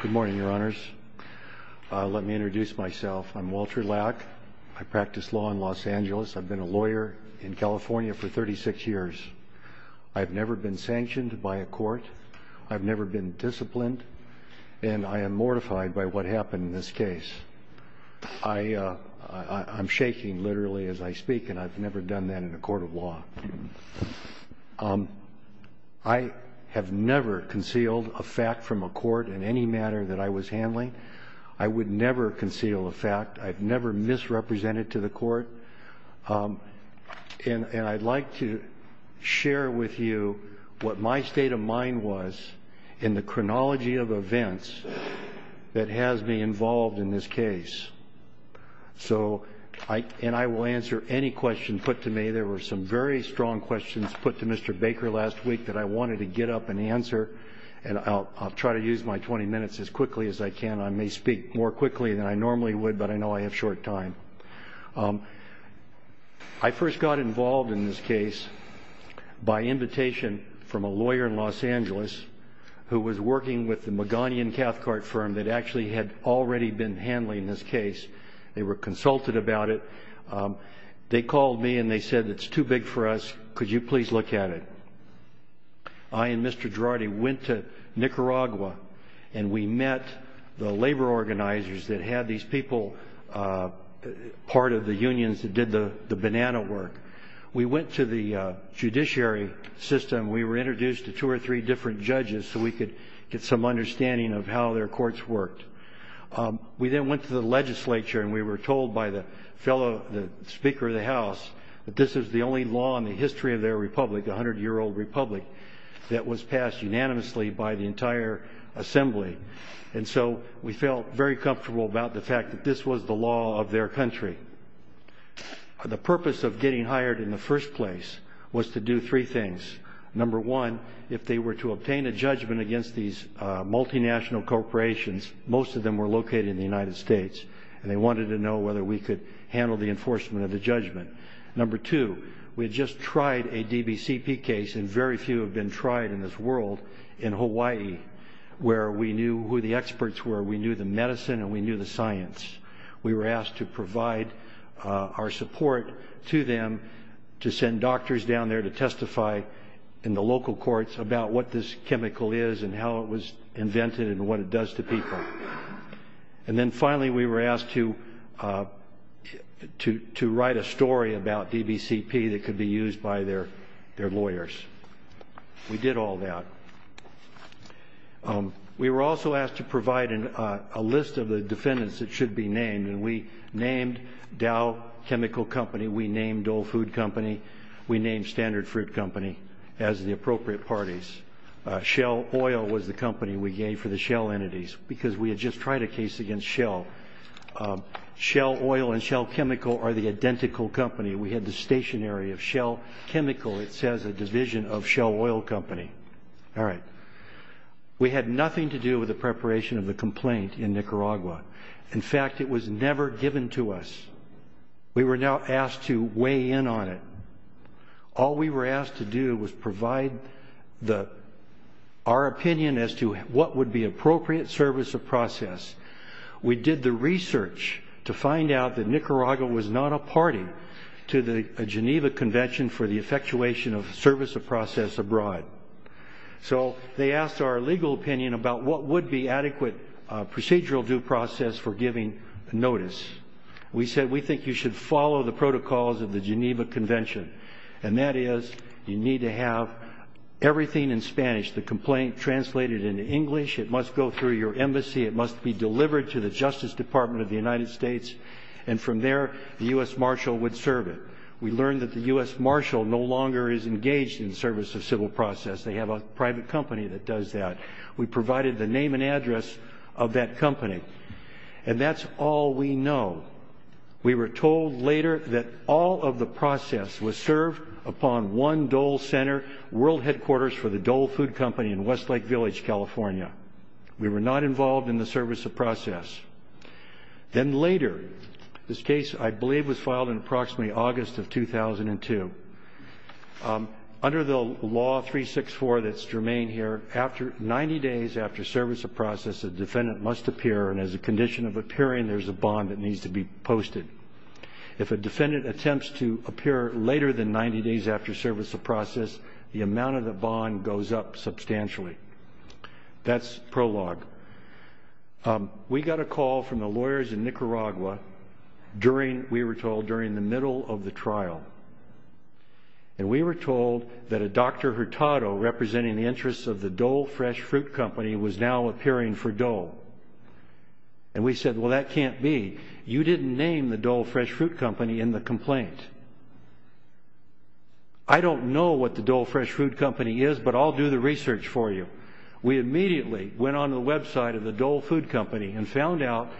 Good morning, Your Honors. Let me introduce myself. I'm Walter Lack. I practice law in Los Angeles. I've been a lawyer in California for 36 years. I've never been sanctioned by a court. I've never been disciplined, and I am mortified by what happened in this case. I'm shaking, literally, as I speak, and I've never done that in a court of law. I have never concealed a fact from a court in any manner that I was handling. I would never conceal a fact. I've never misrepresented to the court. And I'd like to share with you what my state of mind was in the chronology of events that has me involved in this case. And I will answer any question put to me. There were some very strong questions put to Mr. Baker last week that I wanted to get up and answer, and I'll try to use my 20 minutes as quickly as I can. I may speak more quickly than I normally would, but I know I have short time. I first got involved in this case by invitation from a lawyer in Los Angeles who was working with the Maganian Cathcart firm that actually had already been handling this case. They were consulted about it. They called me, and they said, it's too big for us. Could you please look at it? I and Mr. Girardi went to Nicaragua, and we met the labor organizers that had these people part of the unions that did the banana work. We went to the judiciary system. We were introduced to two or three different judges so we could get some understanding of how their courts worked. We then went to the legislature, and we were told by the speaker of the House that this is the only law in the history of their republic, the 100-year-old republic, that was passed unanimously by the entire assembly. And so we felt very comfortable about the fact that this was the law of their country. The purpose of getting hired in the first place was to do three things. Number one, if they were to obtain a judgment against these multinational corporations, most of them were in the United States, and they wanted to know whether we could handle the enforcement of the judgment. Number two, we had just tried a DBCP case, and very few have been tried in this world in Hawaii, where we knew who the experts were. We knew the medicine, and we knew the science. We were asked to provide our support to them to send doctors down there to testify in the local courts about what this chemical is and how it was invented and what it does to people. And then finally, we were asked to write a story about DBCP that could be used by their lawyers. We did all that. We were also asked to provide a list of the defendants that should be named, and we named Dow Chemical Company, we named Old Food Company, we named Standard Fruit Company as the appropriate parties. Shell Oil was the company we gave for the shell entities, because we had just tried a case against Shell. Shell Oil and Shell Chemical are the identical company. We had the stationery of Shell Chemical, it says, a division of Shell Oil Company. All right. We had nothing to do with the preparation of the complaint in Nicaragua. In fact, it was never given to us. We were now asked to weigh in on it. All we were asked to do was provide our opinion as to what would be appropriate service of process. We did the research to find out that Nicaragua was not a party to the Geneva Convention for the effectuation of service of process abroad. So they asked our legal opinion about what would be adequate procedural due process for giving notice. We said, we think you should follow the protocols of the Geneva Convention, and that is you need to have everything in Spanish, the complaint translated into English, it must go through your embassy, it must be delivered to the Justice Department of the United States, and from there the U.S. Marshal would serve it. We learned that the U.S. Marshal no longer is engaged in service of civil process. They have a private company that does that. We provided the name and address of that company. And that's all we know. We were told later that all of the process was served upon one Dole Center, world headquarters for the Dole Food Company in Westlake Village, California. We were not involved in the service of process. Then later, this case I believe was filed in approximately August of 2002. Under the law 364 that's to remain here, 90 days after service of process, a defendant must appear, and as a condition of appearing, there's a bond that needs to be posted. If a defendant attempts to appear later than 90 days after service of process, the amount of the bond goes up substantially. That's prologue. We got a call from the lawyers in Nicaragua during, we were told, during the middle of the trial. And we were told that a Dr. Hurtado representing the interests of the Dole Fresh Fruit Company was now appearing for Dole. And we said, well, that can't be. You didn't name the Dole Fresh Fruit Company in the complaint. I don't know what the Dole Fresh Fruit Company is, but I'll do the research for you. We immediately went on the website of the Dole Food Company and found out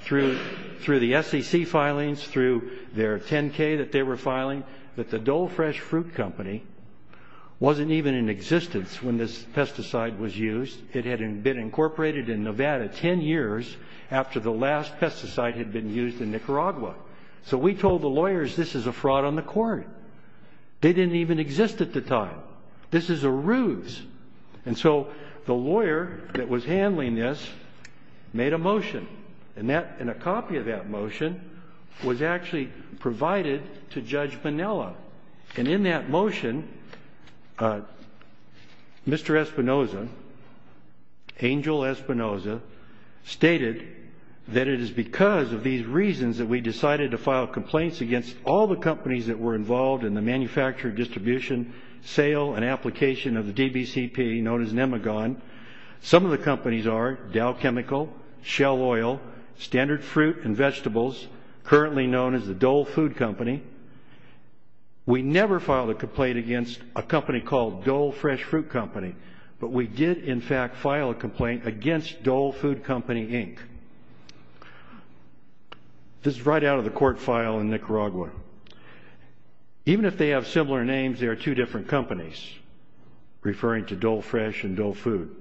through the SEC filings, through their 10-K that they were filing, that the Dole Fresh Fruit Company wasn't even in existence when this pesticide was used. It had been incorporated in Nevada 10 years after the last pesticide had been used in Nicaragua. So we told the lawyers this is a fraud on the court. They didn't even exist at the time. This is a ruse. And so the lawyer that was handling this made a motion. And a copy of that motion was actually provided to us. And in that motion, Mr. Espinoza, Angel Espinoza, stated that it is because of these reasons that we decided to file complaints against all the companies that were involved in the manufacture, distribution, sale, and application of the DBCP, known as Nemagon. Some of the companies are Dow Chemical, Shell Oil, Standard Fruit and Vegetables, currently known as the Dole Food Company. We never filed a complaint against a company called Dole Fresh Fruit Company. But we did, in fact, file a complaint against Dole Food Company, Inc. This is right out of the court file in Nicaragua. Even if they have similar names, they are two different companies, referring to Dole Fresh and Dole Food.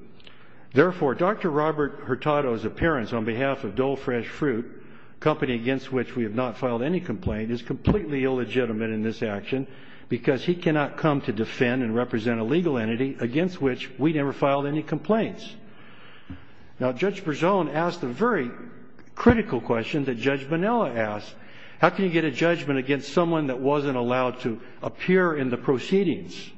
Therefore, Dr. Robert Hurtado's appearance on behalf of Dole Fresh Fruit, a company against which we have not filed any complaint, is completely illegitimate in this action because he cannot come to defend and represent a legal entity against which we never filed any complaints. Now, Judge Bergeon asked a very critical question that Judge Manella asked. How can you get a judgment against someone that wasn't allowed to appear in the proceedings?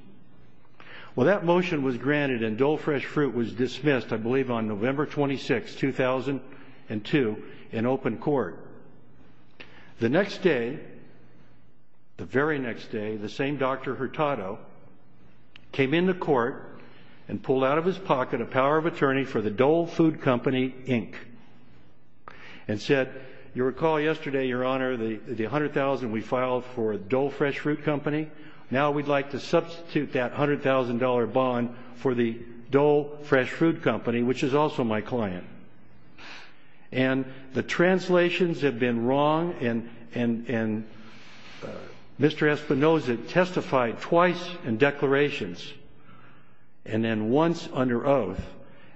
Well, that motion was granted and Dole Fresh Fruit was dismissed, I believe, on November 26, 2002, in open court. The next day, the very next day, the same Dr. Hurtado came into court and pulled out of his pocket a power of attorney for the Dole Food Company, Inc., and said, you recall yesterday, Your Honor, the $100,000 we filed for Dole Fresh Fruit Company, now we'd like to substitute that $100,000 bond for the Dole Fresh Food Company, which is also my client. And the translations have been wrong and Mr. Espinoza testified twice in declarations and then once under oath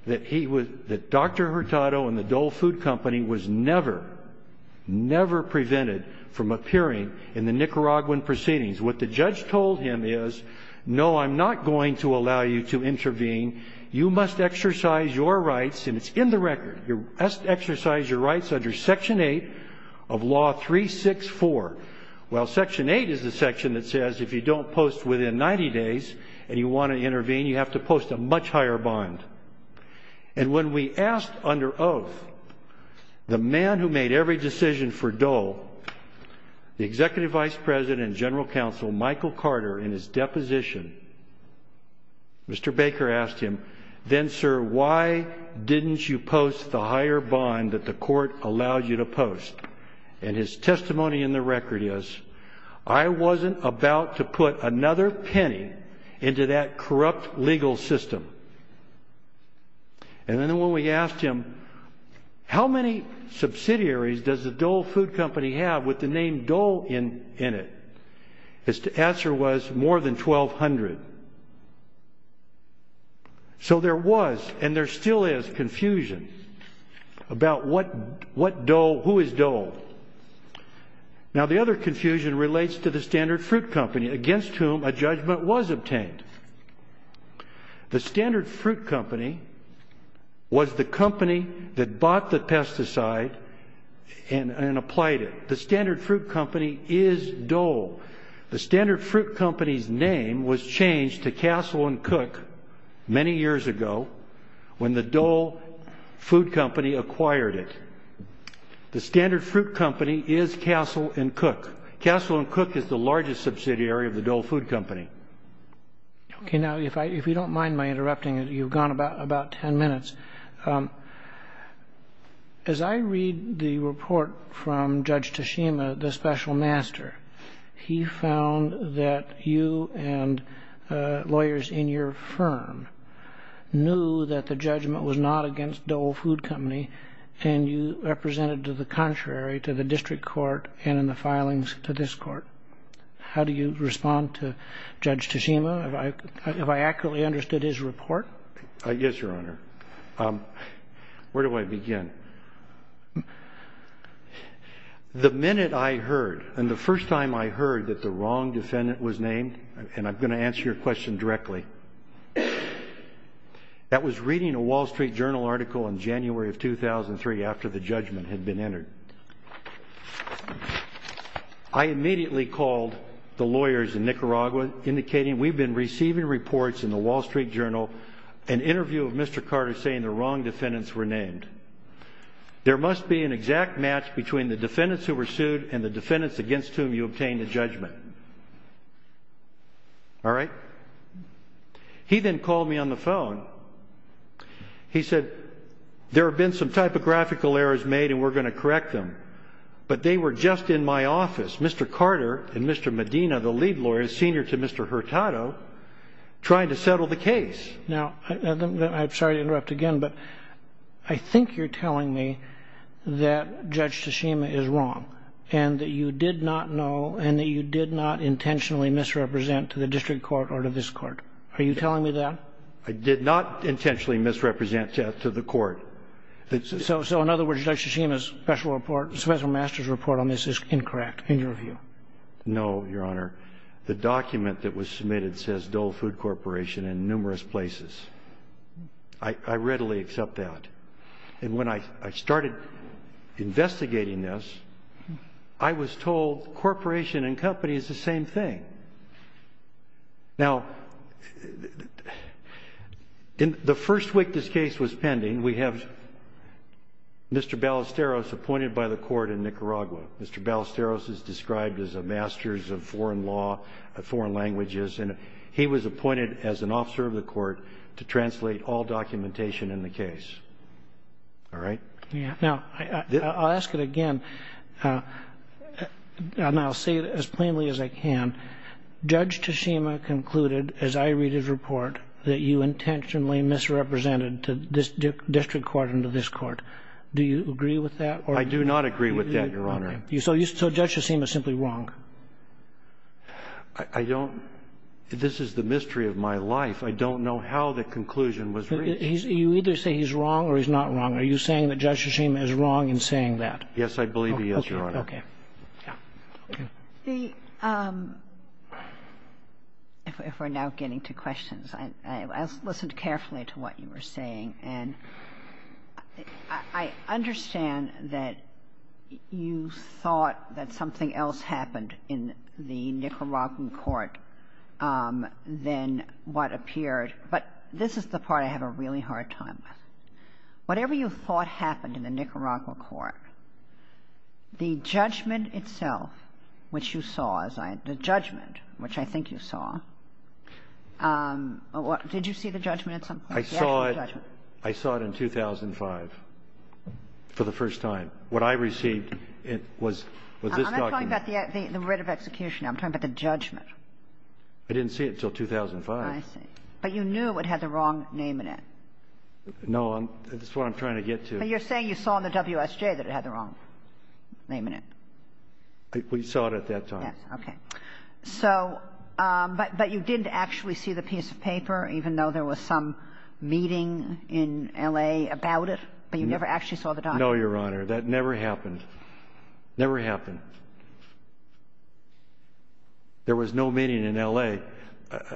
that Dr. Hurtado and the Dole Food Company was never, never prevented from appearing in the Nicaraguan proceedings. What the judge told him is, no, I'm not going to allow you to intervene. You must exercise your rights, and it's in the record, you must exercise your rights under Section 8 of Law 364. Well, Section 8 is the section that says if you don't post within 90 days and you want to intervene, you have to post a much higher bond. And when we asked under oath the man who made every decision for Dole, the Executive Vice President and General Counsel, Michael Carter, in his deposition, Mr. Baker asked him, then, sir, why didn't you post the higher bond that the court allowed you to post? And his testimony in the record is, I wasn't about to put another penny into that corrupt legal system. And then when we asked him, how many subsidiaries does the Dole Food Company have with the name Dole in it? His answer was, more than 1,200. So there was, and there still is, confusion about what Dole, who is Dole. Now, the other confusion relates to the Standard Fruit Company, against whom a judgment was obtained. The Standard Fruit Company was the company that bought the pesticide and applied it. The Standard Fruit Company is Dole. The Standard Fruit Company's name was changed to Castle and Cook many years ago when the Dole Food Company acquired it. The Standard Fruit Company is Castle and Cook. Castle and Cook is the largest subsidiary of the Dole Food Company. Okay. Now, if you don't mind my interrupting, you've gone about 10 minutes. As I read the report from Judge Tashima, the special master, he found that you and lawyers in your firm knew that the judgment was not against Dole Food Company and you represented to the contrary to the district court and in the filings to this court. How do you respond to Judge Tashima? Have I accurately understood his report? Yes, Your Honor. Where do I begin? The minute I heard, and the first time I heard that the wrong defendant was named, and I'm going to answer your question directly, I was reading a Wall Street Journal article in January of 2003 after the judgment had been entered. I immediately called the lawyers in Nicaragua indicating we've been receiving reports in the Wall Street Journal, an interview of Mr. Carter saying the wrong defendants were named. There must be an exact match between the defendants who were sued and the defendants against whom you obtained a judgment. All right? He then called me on the phone. He said, there have been some typographical errors made and we're going to correct them, but they were just in my office, Mr. Carter and Mr. Medina, the lead lawyers, senior to Mr. Hurtado, trying to settle the case. Now, I'm sorry to interrupt again, but I think you're telling me that Judge Tashima is wrong and that you did not know and that you did not intentionally misrepresent to the district court or to this court. Are you telling me that? I did not intentionally misrepresent that to the court. So in other words, Judge Tashima's special report, special master's report on this is incorrect in your view? No, Your Honor. The document that was submitted says Dole Food Corporation in numerous places. I readily accept that. And when I started investigating this, I was told corporation and company is the same thing. Now, in the first week this case was pending, we have Mr. Ballesteros appointed by the court in Nicaragua. Mr. Ballesteros is described as a master's of foreign law, foreign languages, and he was appointed as an officer of the court to translate all documentation in the case. All right? Yeah. Now, I'll ask it again. And I'll say it as plainly as I can. Judge Tashima concluded, as I read his report, that you intentionally misrepresented to this district court and to this court. Do you agree with that? I do not agree with that, Your Honor. So Judge Tashima is simply wrong? I don't. This is the mystery of my life. I don't know how the conclusion was reached. You either say he's wrong or he's not wrong. Are you saying that Judge Tashima is wrong in saying that? Yes, I believe he is, Your Honor. Okay. If we're now getting to questions, I listened carefully to what you were saying. And I understand that you thought that something else happened in the Nicaraguan court than what appeared. But this is the part I have a really hard time with. Whatever you thought happened in the Nicaragua court, the judgment itself, which you saw, the judgment, which I think you saw, did you see the judgment at some point? I saw it. I saw it in 2005 for the first time. What I received was this document. I'm not talking about the writ of execution. I'm talking about the judgment. I didn't see it until 2005. I see. But you knew it had the wrong name in it. No, that's what I'm trying to get to. But you're saying you saw in the WSJ that it had the wrong name in it. We saw it at that time. Okay. So, but you didn't actually see the piece of paper, even though there was some meeting in L.A. about it, but you never actually saw the document? No, Your Honor. That never happened. Never happened. There was no meeting in L.A.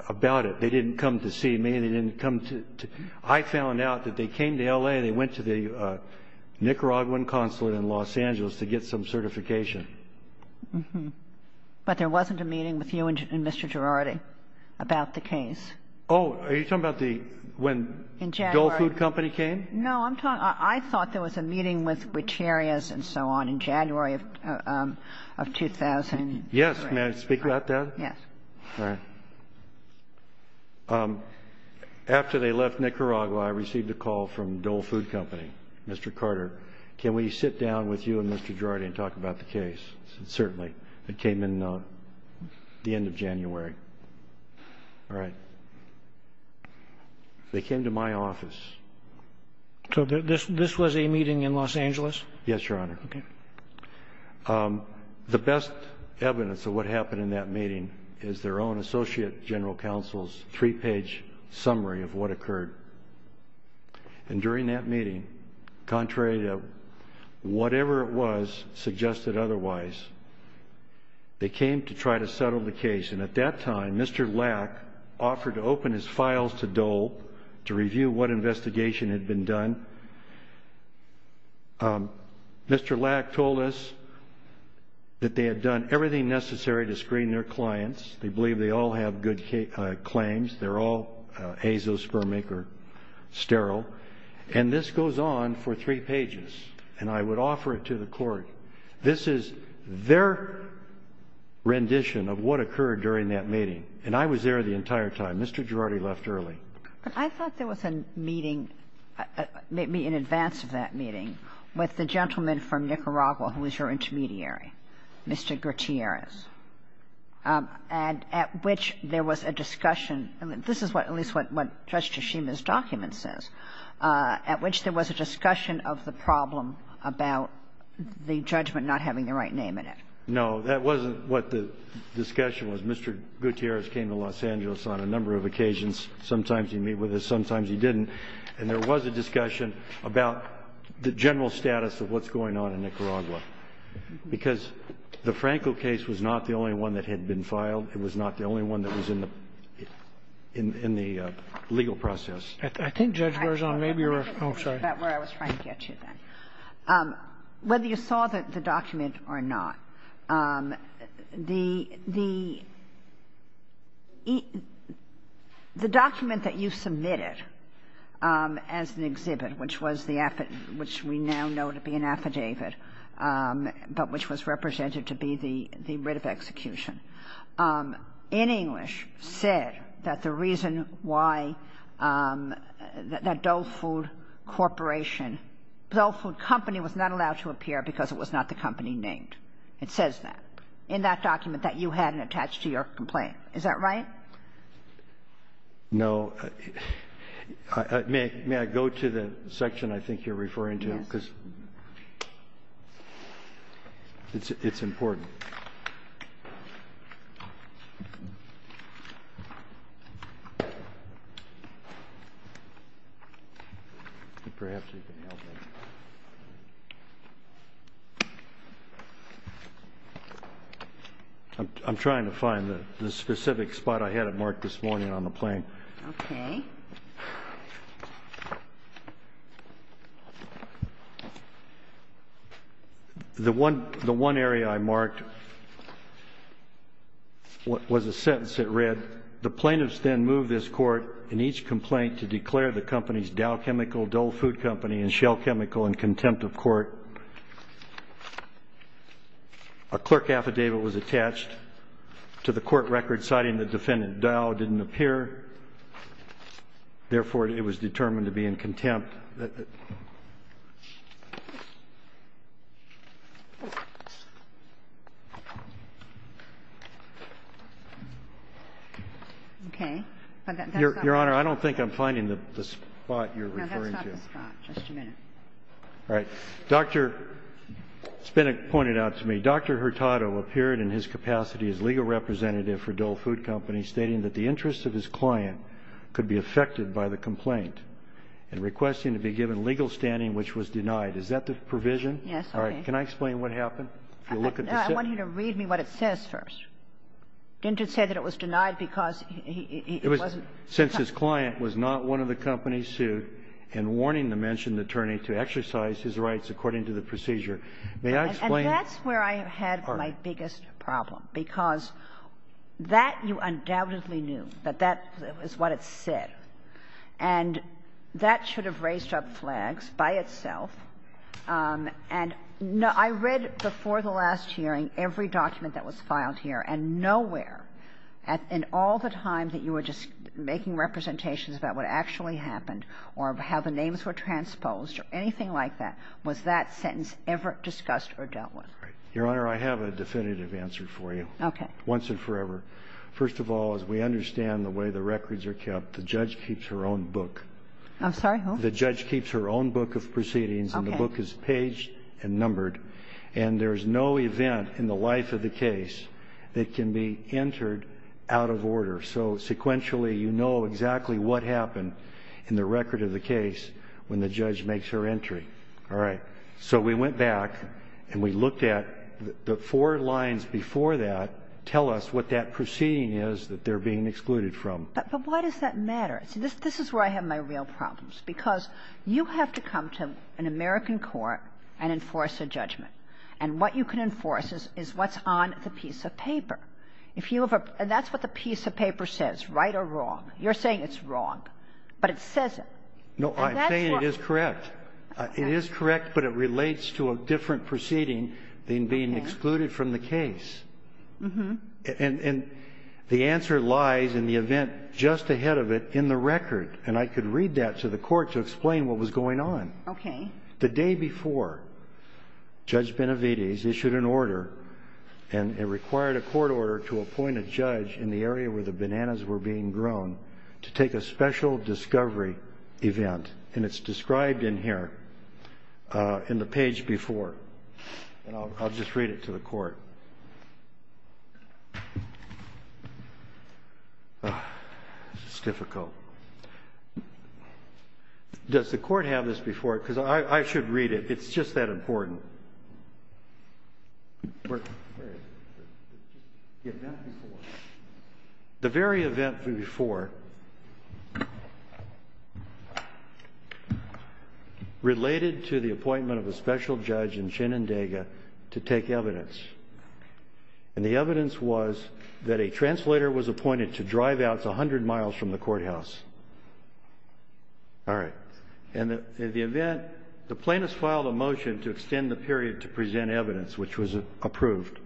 about it. They didn't come to see me. They didn't come to... I found out that they came to L.A. and they went to the Nicaraguan consulate in Los Angeles to get some certification. But there wasn't a meeting with you and Mr. Girardi about the case? Oh, are you talking about the... when Dole Food Company came? No, I'm talking... I thought there was a meeting with Gutierrez and so on in January of 2000. Yes. May I speak to that, Deb? Yes. After they left Nicaragua, I received a call from Dole Food Company. Mr. Carter, can we sit down with you and Mr. Girardi and talk about the case? Certainly. It came in the end of January. All right. They came to my office. So this was a meeting in Los Angeles? Yes, Your Honor. The best evidence of what happened in that meeting is their own Associate General Counsel's three-page summary of what occurred. And during that meeting, contrary to whatever it was suggested otherwise, they came to try to settle the case. And at that time, Mr. Lack offered to open his files to Dole to review what investigation had been done. Mr. Lack told us that they had done everything necessary to screen their clients. They believe they all have good claims. They're all azoospermic or sterile. And this goes on for three pages. And I would offer it to the court. This is their rendition of what occurred during that meeting. And I was there the entire time. Mr. Girardi left early. I thought there was a meeting, maybe in advance of that meeting, with the gentleman from Nicaragua who was your intermediary, Mr. Gutierrez, at which there was a discussion. This is at least what Judge Tshishima's document says, at which there was a discussion of the problem about the judgment not having the right name in it. No, that wasn't what the discussion was. Mr. Gutierrez came to Los Angeles on a number of occasions. Sometimes he'd meet with us. Sometimes he didn't. And there was a discussion about the general status of what's going on in Nicaragua. Because the Franco case was not the only one that had been filed. It was not the only one that was in the legal process. I think Judge Garzón, maybe you're right. Oh, sorry. That's where I was trying to get you then. Whether you saw the document or not, the document that you submitted as an exhibit, which was the affidavit, which we now know to be an affidavit, but which was represented to be the writ of execution, in English, said that the reason why that Dough Food Corporation, Dough Food Company was not allowed to appear because it was not the company named. It says that in that document that you hadn't attached to your complaint. Is that right? No. May I go to the section I think you're referring to? It's important. Okay. I'm trying to find the specific spot I had it marked this morning on the plane. Okay. The one area I marked was a sentence that read, the plaintiffs then moved this court in each complaint to declare the company's Dough Chemical, Dough Food Company, and Shell Chemical in contempt of court. A clerk affidavit was attached to the court record citing the defendant Dough didn't appear. Therefore, it was determined to be in contempt. Okay. Your Honor, I don't think I'm finding the spot you're referring to. I'm going to have to stop the clock. Just a minute. All right. Dr. Spinak pointed out to me, Dr. Hurtado appeared in his capacity as legal representative for Dough Food Company, stating that the interest of his client could be affected by the complaint, and requesting to be given legal standing which was denied. Is that the provision? Yes. All right. Can I explain what happened? If you look at the... I want you to read me what it says first. Didn't it say that it was denied because he wasn't... Since his client was not one of the companies to, and warning the mentioned attorney to exercise his rights according to the procedure. May I explain... And that's where I have had my biggest problem, because that you undoubtedly knew, that that is what it said, and that should have raised up flags by itself. And I read before the last hearing every document that was filed here, and nowhere in all the time that you were just making representations about what actually happened, or how the names were transposed, or anything like that, was that sentence ever discussed or dealt with. Your Honor, I have a definitive answer for you. Okay. Once and forever. First of all, as we understand the way the records are kept, the judge keeps her own book. I'm sorry, who? The judge keeps her own book of proceedings, and the book is paged and numbered, and there's no event in the life of the case that can be entered out of order. So sequentially, you know exactly what happened in the record of the case when the judge makes her entry. All right. So we went back and we looked at the four lines before that, tell us what that proceeding is that they're being excluded from. But why does that matter? So this is where I have my real problems, because you have to come to an American court and enforce a judgment, and what you can enforce is what's on the piece of paper. And that's what the piece of paper says, right or wrong. You're saying it's wrong, but it says it. No, I'm saying it is correct. It is correct, but it relates to a different proceeding than being excluded from the case. And the answer lies in the event just ahead of it in the record, and I could read that to the court to explain what was going on. Okay. The day before, Judge Benavides issued an order, and it required a court order to appoint a judge in the area where the bananas were being grown to take a special discovery event. And it's described in here in the page before. I'll just read it to the court. This is difficult. Does the court have this before? Because I should read it. It's just that important. The very event before related to the appointment of a special judge in Shenandaga to take evidence. And the evidence was that a translator was appointed to drive out 100 miles from the courthouse. All right. And in the event, the plaintiffs filed a motion to extend the period to present evidence, which was approved.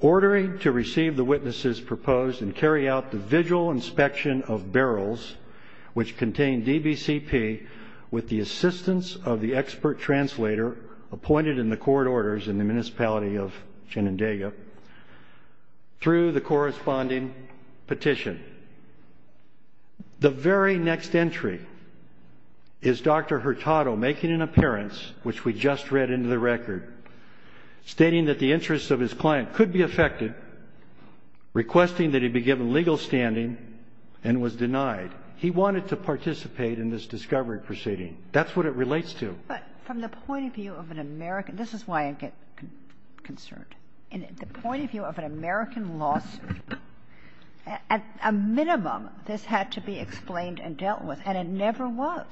Ordering to receive the witnesses proposed and carry out the vigil inspection of barrels, which contained DBCP with the assistance of the expert translator appointed in the court orders in the municipality of Shenandaga through the corresponding petition. The very next entry is Dr. Hurtado making an appearance, which we just read into the record. Stating that the interests of his client could be affected. Requesting that he'd be given legal standing and was denied. He wanted to participate in this discovery proceeding. That's what it relates to. But from the point of view of an American, this is why I get concerned. In the point of view of an American lawsuit, at a minimum, this had to be explained and dealt with. And it never was.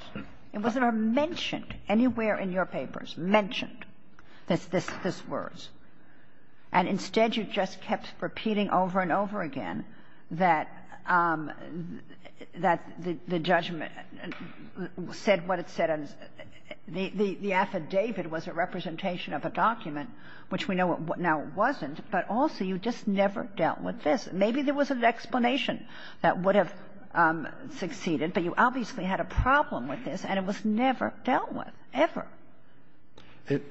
It wasn't mentioned anywhere in your papers. Mentioned is this word. And instead, you just kept repeating over and over again that the judgment said what it said. The affidavit was a representation of a document, which we know now it wasn't. But also, you just never dealt with this. Maybe there was an explanation that would have succeeded, but you obviously had a problem with this and it was never dealt with, ever. It,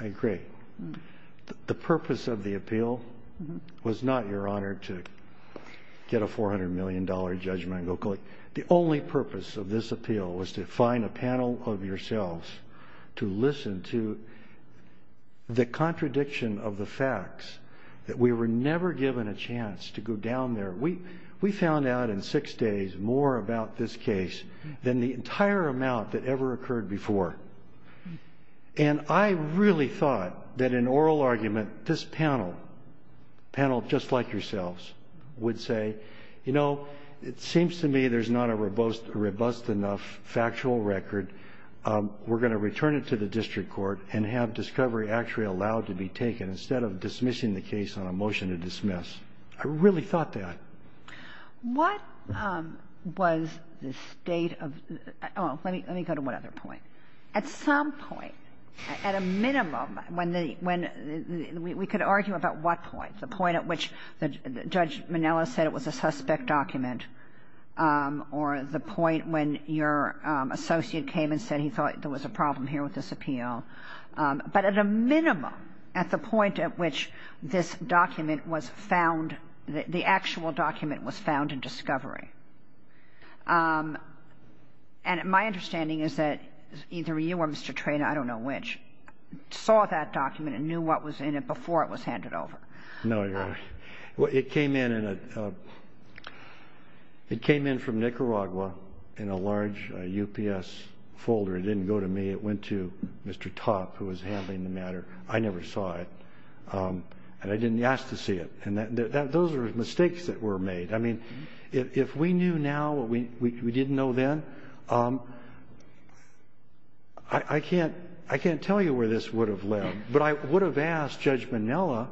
I agree. The purpose of the appeal was not, Your Honor, to get a $400 million judgment and go collect. The only purpose of this appeal was to find a panel of yourselves to listen to the contradiction of the facts, that we were never given a chance to go down there. We found out in six days more about this case than the entire amount that ever occurred before. And I really thought that an oral argument, this panel, panel just like yourselves, would say, you know, it seems to me there's not a robust enough factual record. We're gonna return it to the district court and have discovery actually allowed to be taken instead of dismissing the case on a motion to dismiss. I really thought that. What was the state of, oh, let me go to one other point. At some point, at a minimum, when the, when we could argue about what point, the point at which Judge Minella said it was a suspect document or the point when your associate came and said he thought there was a problem here with this appeal. But at a minimum, at the point at which this document was found, the actual document was found in discovery. And my understanding is that either you or Mr. Traynor, I don't know which, saw that document and knew what was in it before it was handed over. No, Your Honor. Well, it came in from Nicaragua in a large UPS folder. It didn't go to me. It went to Mr. Topp, who was handling the matter. I never saw it. And I didn't ask to see it. And those are mistakes that were made. I mean, if we knew now what we didn't know then, I can't, I can't tell you where this would have led. But I would have asked Judge Minella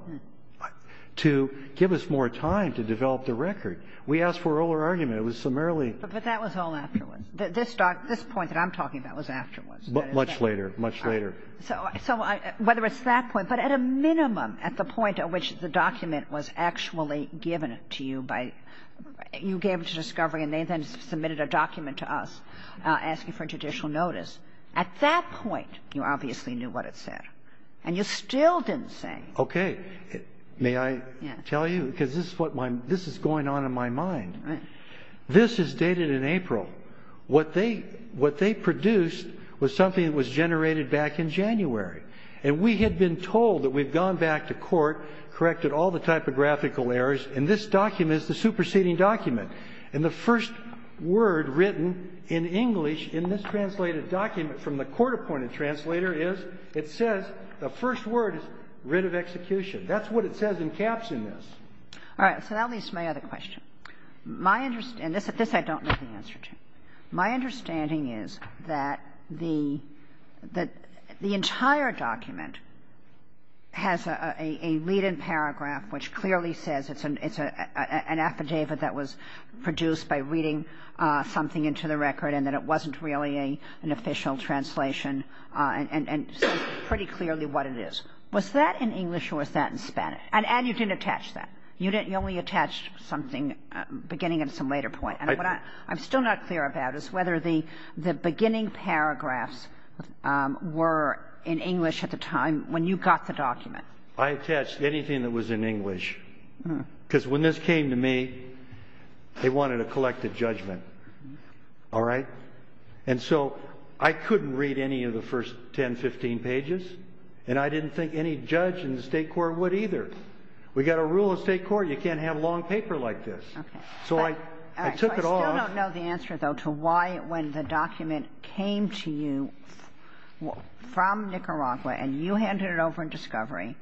to give us more time to develop the record. We asked for an earlier argument. It was some early. But that was all afterwards. This point that I'm talking about was afterwards. Much later, much later. So whether it's that point, but at a minimum, at the point at which the document was actually given to you by, you gave it to Discovery, and they then submitted a document to us asking for judicial notice. At that point, you obviously knew what it said. And you still didn't say. Okay. May I tell you? Because this is what, this is going on in my mind. This is dated in April. What they, what they produced was something that was generated back in January. And we had been told that we've gone back to court, corrected all the typographical errors. And this document is the superseding document. And the first word written in English in this translated document from the court-appointed translator is, it says, the first word is, writ of execution. That's what it says in caps in this. All right. So that leads to my other question. My, and this I don't know the answer to. My understanding is that the, that the entire document has a read-in paragraph which clearly says it's an affidavit that was produced by reading something into the record. And that it wasn't really an official translation. And pretty clearly what it is. Was that in English or was that in Spanish? And you didn't attach that. You only attached something beginning at some later point. And what I'm still not clear about is whether the beginning paragraphs were in English at the time when you got the document. I attached anything that was in English. Because when this came to me, they wanted a collective judgment. All right. And so I couldn't read any of the first 10, 15 pages. And I didn't think any judge in the state court would either. We got a rule of state court. You can't have long paper like this. Okay. So I took it all. I still don't know the answer though to why when the document came to you from Nicaragua and you handed it over in discovery.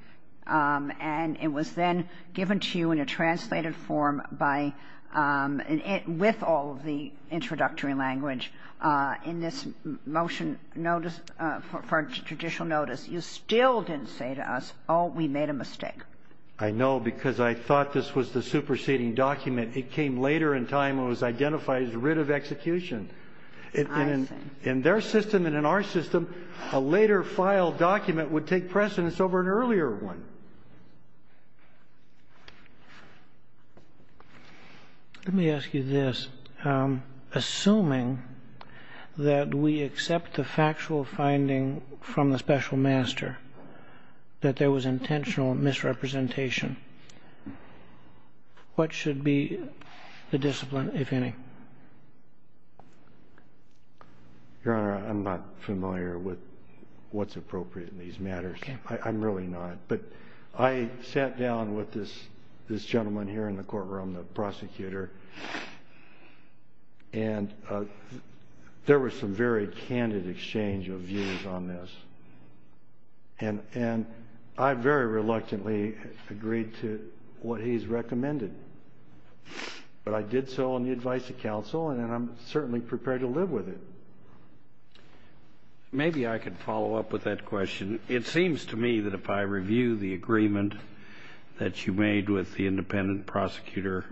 And it was then given to you in a translated form with all of the introductory language. In this motion notice for judicial notice, you still didn't say to us, oh, we made a mistake. I know because I thought this was the superseding document. It came later in time when it was identified as writ of execution. In their system and in our system, a later file document would take precedence over an earlier one. Let me ask you this. Assuming that we accept the factual finding from the special master that there was intentional misrepresentation, what should be the discipline, if any? Your Honor, I'm not familiar with what's appropriate in these matters. I'm really not. But I sat down with this gentleman here in the courtroom, the prosecutor, and there was some very candid exchange of views on this. And I very reluctantly agreed to what he's recommended. But I did so on the advice of counsel and I'm certainly prepared to live with it. Maybe I could follow up with that question. It seems to me that if I review the agreement that you made with the independent prosecutor,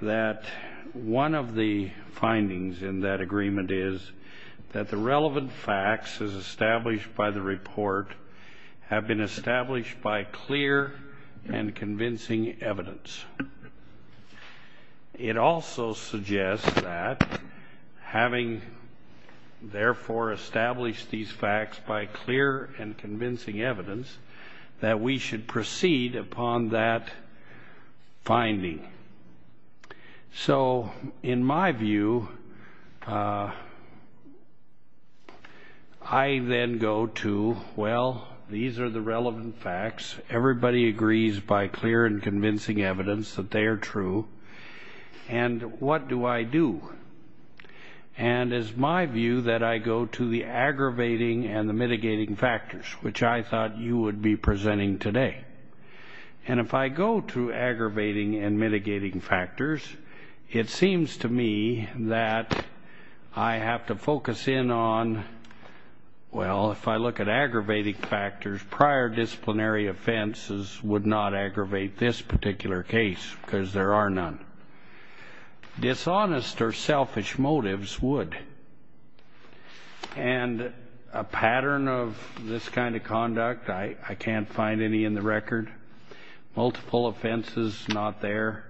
that one of the findings in that agreement is that the relevant facts as established by the report have been established by clear and convincing evidence. It also suggests that having, therefore, established these facts by clear and convincing evidence, that we should proceed upon that finding. So in my view, I then go to, well, these are the relevant facts. Everybody agrees by clear and convincing evidence that they are true. And what do I do? And it's my view that I go to the aggravating and the mitigating factors, which I thought you would be presenting today. And if I go to aggravating and mitigating factors, it seems to me that I have to focus in on, well, if I look at aggravating factors, prior disciplinary offenses would not aggravate this particular case because there are none. Dishonest or selfish motives would. And a pattern of this kind of conduct, I can't find any in the record. Multiple offenses, not there.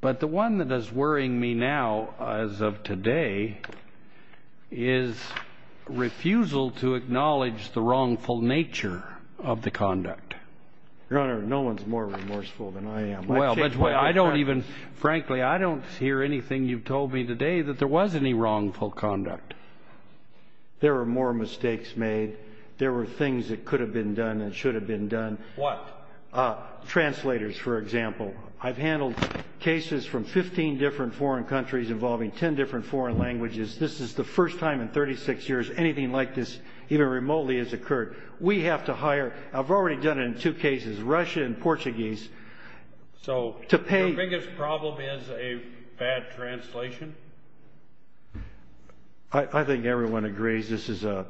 But the one that is worrying me now, as of today, is refusal to acknowledge the wrongful nature of the conduct. Your Honor, no one's more remorseful than I am. Well, but I don't even, frankly, I don't hear anything you've told me today that there was any wrongful. Conduct. There are more mistakes made. There were things that could have been done and should have been done. What? Translators, for example. I've handled cases from 15 different foreign countries involving 10 different foreign languages. This is the first time in 36 years anything like this even remotely has occurred. We have to hire, I've already done it in two cases, Russia and Portuguese. So the biggest problem is a bad translation? I think everyone agrees this is a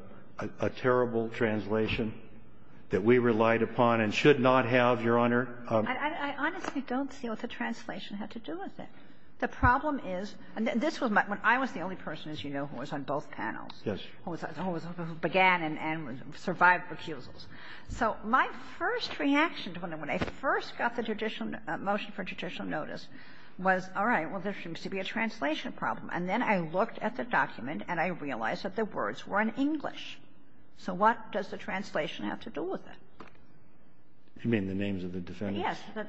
terrible translation that we relied upon and should not have, Your Honor. I honestly don't see what the translation had to do with it. The problem is, this was when I was the only person, as you know, who was on both panels. Yes. Began and survived refusals. So my first reaction to when I first got the motion for judicial notice was, all right, well, there seems to be a translation problem. And then I looked at the document and I realized that the words were in English. So what does the translation have to do with it? You mean the names of the defendants? Yes.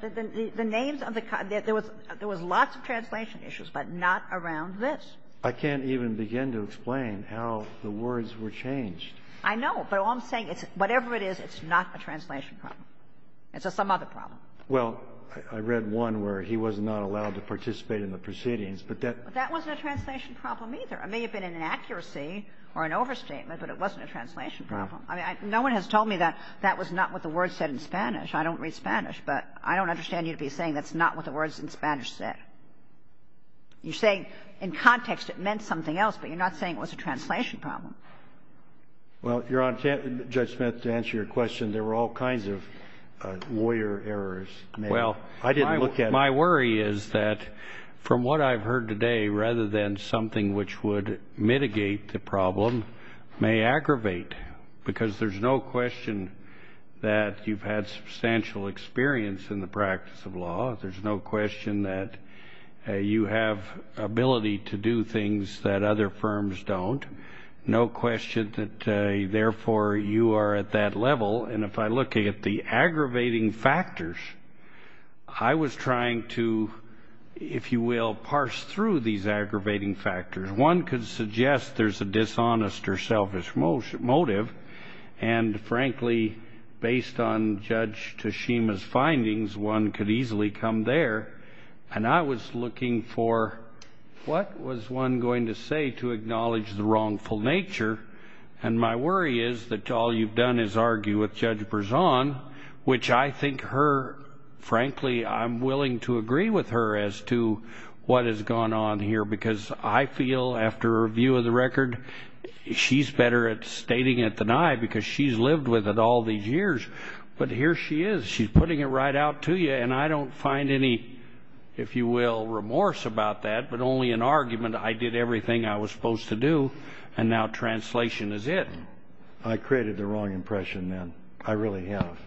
The names of the, there was lots of translation issues, but not around this. I can't even begin to explain how the words were changed. I know, but all I'm saying, whatever it is, it's not a translation problem. It's some other problem. Well, I read one where he was not allowed to participate in the proceedings, but that wasn't a translation problem either. It may have been an inaccuracy or an overstatement, but it wasn't a translation problem. I mean, no one has told me that that was not what the word said in Spanish. I don't read Spanish, but I don't understand you to be saying that's not what the words in Spanish said. You say in context, it meant something else, but you're not saying it was a translation problem. Well, Judge Smith, to answer your question, there were all kinds of lawyer errors. My worry is that from what I've heard today, rather than something which would mitigate the problem, may aggravate because there's no question that you've had substantial experience in the practice of law. There's no question that you have ability to do things that other firms don't. No question that therefore you are at that level. And if I look at the aggravating factors, I was trying to, if you will, parse through these aggravating factors. One could suggest there's a dishonest or selfish motive. And frankly, based on Judge Tashima's findings, one could easily come there. And I was looking for what was one going to say to acknowledge the wrongful nature. And my worry is that all you've done is argue with Judge Berzon, which I think her, as to what has gone on here. Because I feel, after a view of the record, she's better at stating it than I because she's lived with it all these years. But here she is. She's putting it right out to you. And I don't find any, if you will, remorse about that, but only an argument. I did everything I was supposed to do. And now translation is it. I created the wrong impression then. I really have.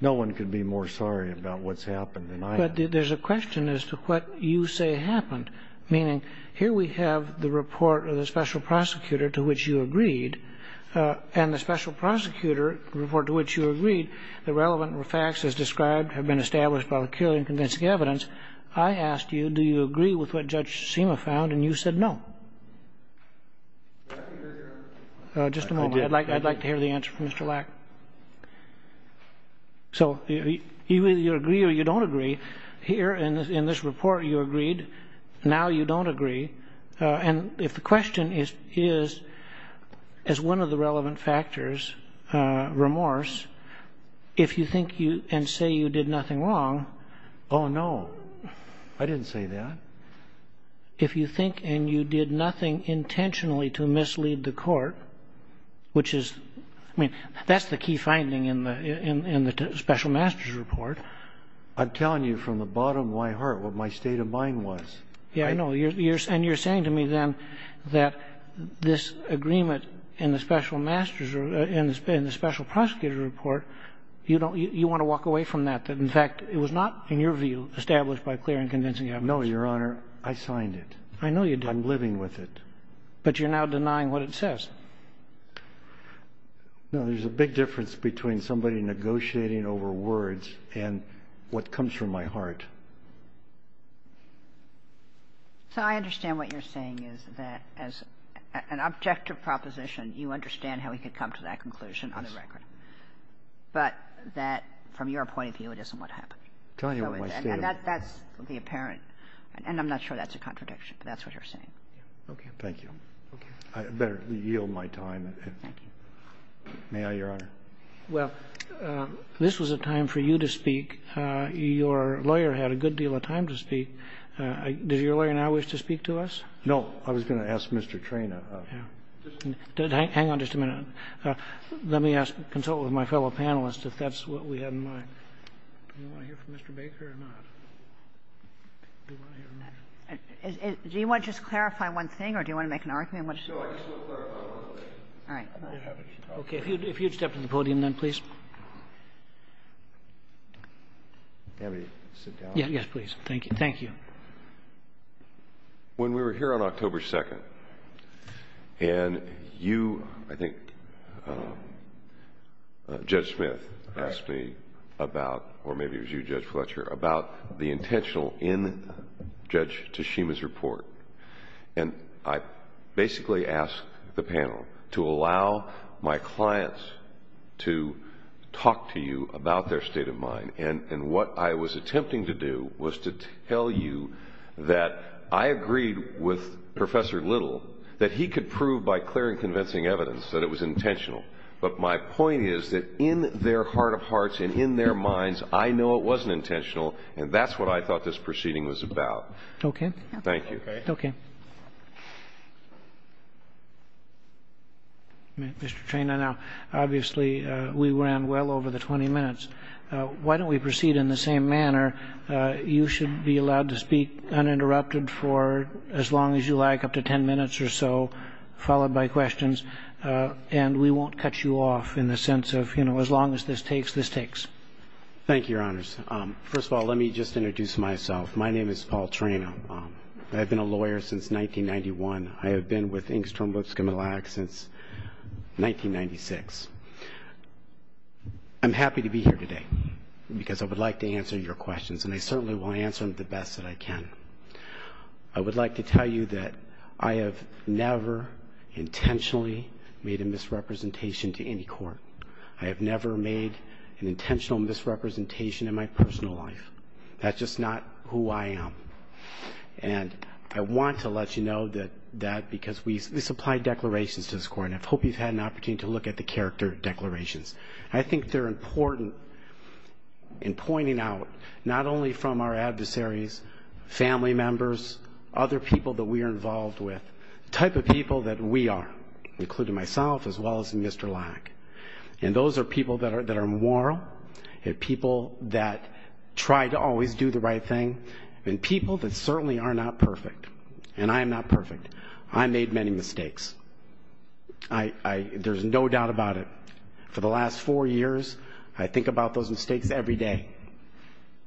No one could be more sorry about what's happened than I am. But there's a question as to what you say happened. Meaning, here we have the report of the special prosecutor to which you agreed. And the special prosecutor, the report to which you agreed, the relevant facts as described have been established by peculiar and convincing evidence. I asked you, do you agree with what Judge Tashima found? And you said no. Just a moment. I'd like to hear the answer from Mr. Lack. So either you agree or you don't agree here. And in this report, you agreed. Now you don't agree. And if the question is, as one of the relevant factors, remorse, if you think you and say you did nothing wrong. Oh, no, I didn't say that. If you think and you did nothing intentionally to mislead the court, which is, I mean, that's the key finding in the special master's report. I'm telling you from the bottom of my heart what my state of mind was. Yeah, I know. And you're saying to me then that this agreement in the special master's and the special prosecutor report, you want to walk away from that. In fact, it was not, in your view, established by clear and convincing evidence. No, Your Honor. I signed it. I know you did. I'm living with it. But you're now denying what it says. No, there's a big difference between somebody negotiating over words and what comes from my heart. So I understand what you're saying is that as an objective proposition, you understand how we could come to that conclusion on the record. But that, from your point of view, it isn't what happened. Telling you what my state of mind. That would be apparent. And I'm not sure that's a contradiction. That's what you're saying. Okay, thank you. I better yield my time. May I, Your Honor? Well, this was a time for you to speak. Your lawyer had a good deal of time to speak. Did your lawyer now wish to speak to us? No, I was going to ask Mr. Trena. Hang on just a minute. Let me consult with my fellow panelists if that's what we had in mind. Do you want to hear from Mr. Baker or not? Do you want to just clarify one thing or do you want to make an argument? No, I just want to clarify one thing. All right. Okay, if you'd step to the podium then, please. Can we sit down? Yeah, yeah, please. Thank you. When we were here on October 2nd and you, I think, Judge Smith asked me about, or maybe it was you, Judge Fletcher, And I basically asked the panel, to allow my clients to talk to you about their state of mind. And what I was attempting to do was to tell you that I agreed with Professor Little that he could prove by clearing convincing evidence that it was intentional. But my point is that in their heart of hearts and in their minds, I know it wasn't intentional and that's what I thought this proceeding was about. Okay. Thank you. Okay. Mr. Trena, now, obviously, we ran well over the 20 minutes. Why don't we proceed in the same manner? You should be allowed to speak uninterrupted for as long as you like, up to 10 minutes or so, followed by questions. And we won't cut you off in the sense of, you know, as long as this takes, this takes. Thank you, Your Honors. First of all, let me just introduce myself. My name is Paul Trena. I've been a lawyer since 1991. I have been with Engstrom Votes Criminal Act since 1996. I'm happy to be here today because I would like to answer your questions and I certainly will answer them the best that I can. I would like to tell you that I have never intentionally made a misrepresentation to any court. I have never made an intentional misrepresentation in my personal life. That's just not who I am. And I want to let you know that because we supply declarations to this court and I hope you've had an opportunity to look at the character declarations. I think they're important in pointing out not only from our adversaries, family members, other people that we are involved with, type of people that we are, including myself, as well as Mr. Lack. And those are people that are moral, and people that try to always do the right thing, and people that certainly are not perfect. And I am not perfect. I made many mistakes. There's no doubt about it. For the last four years, I think about those mistakes every day.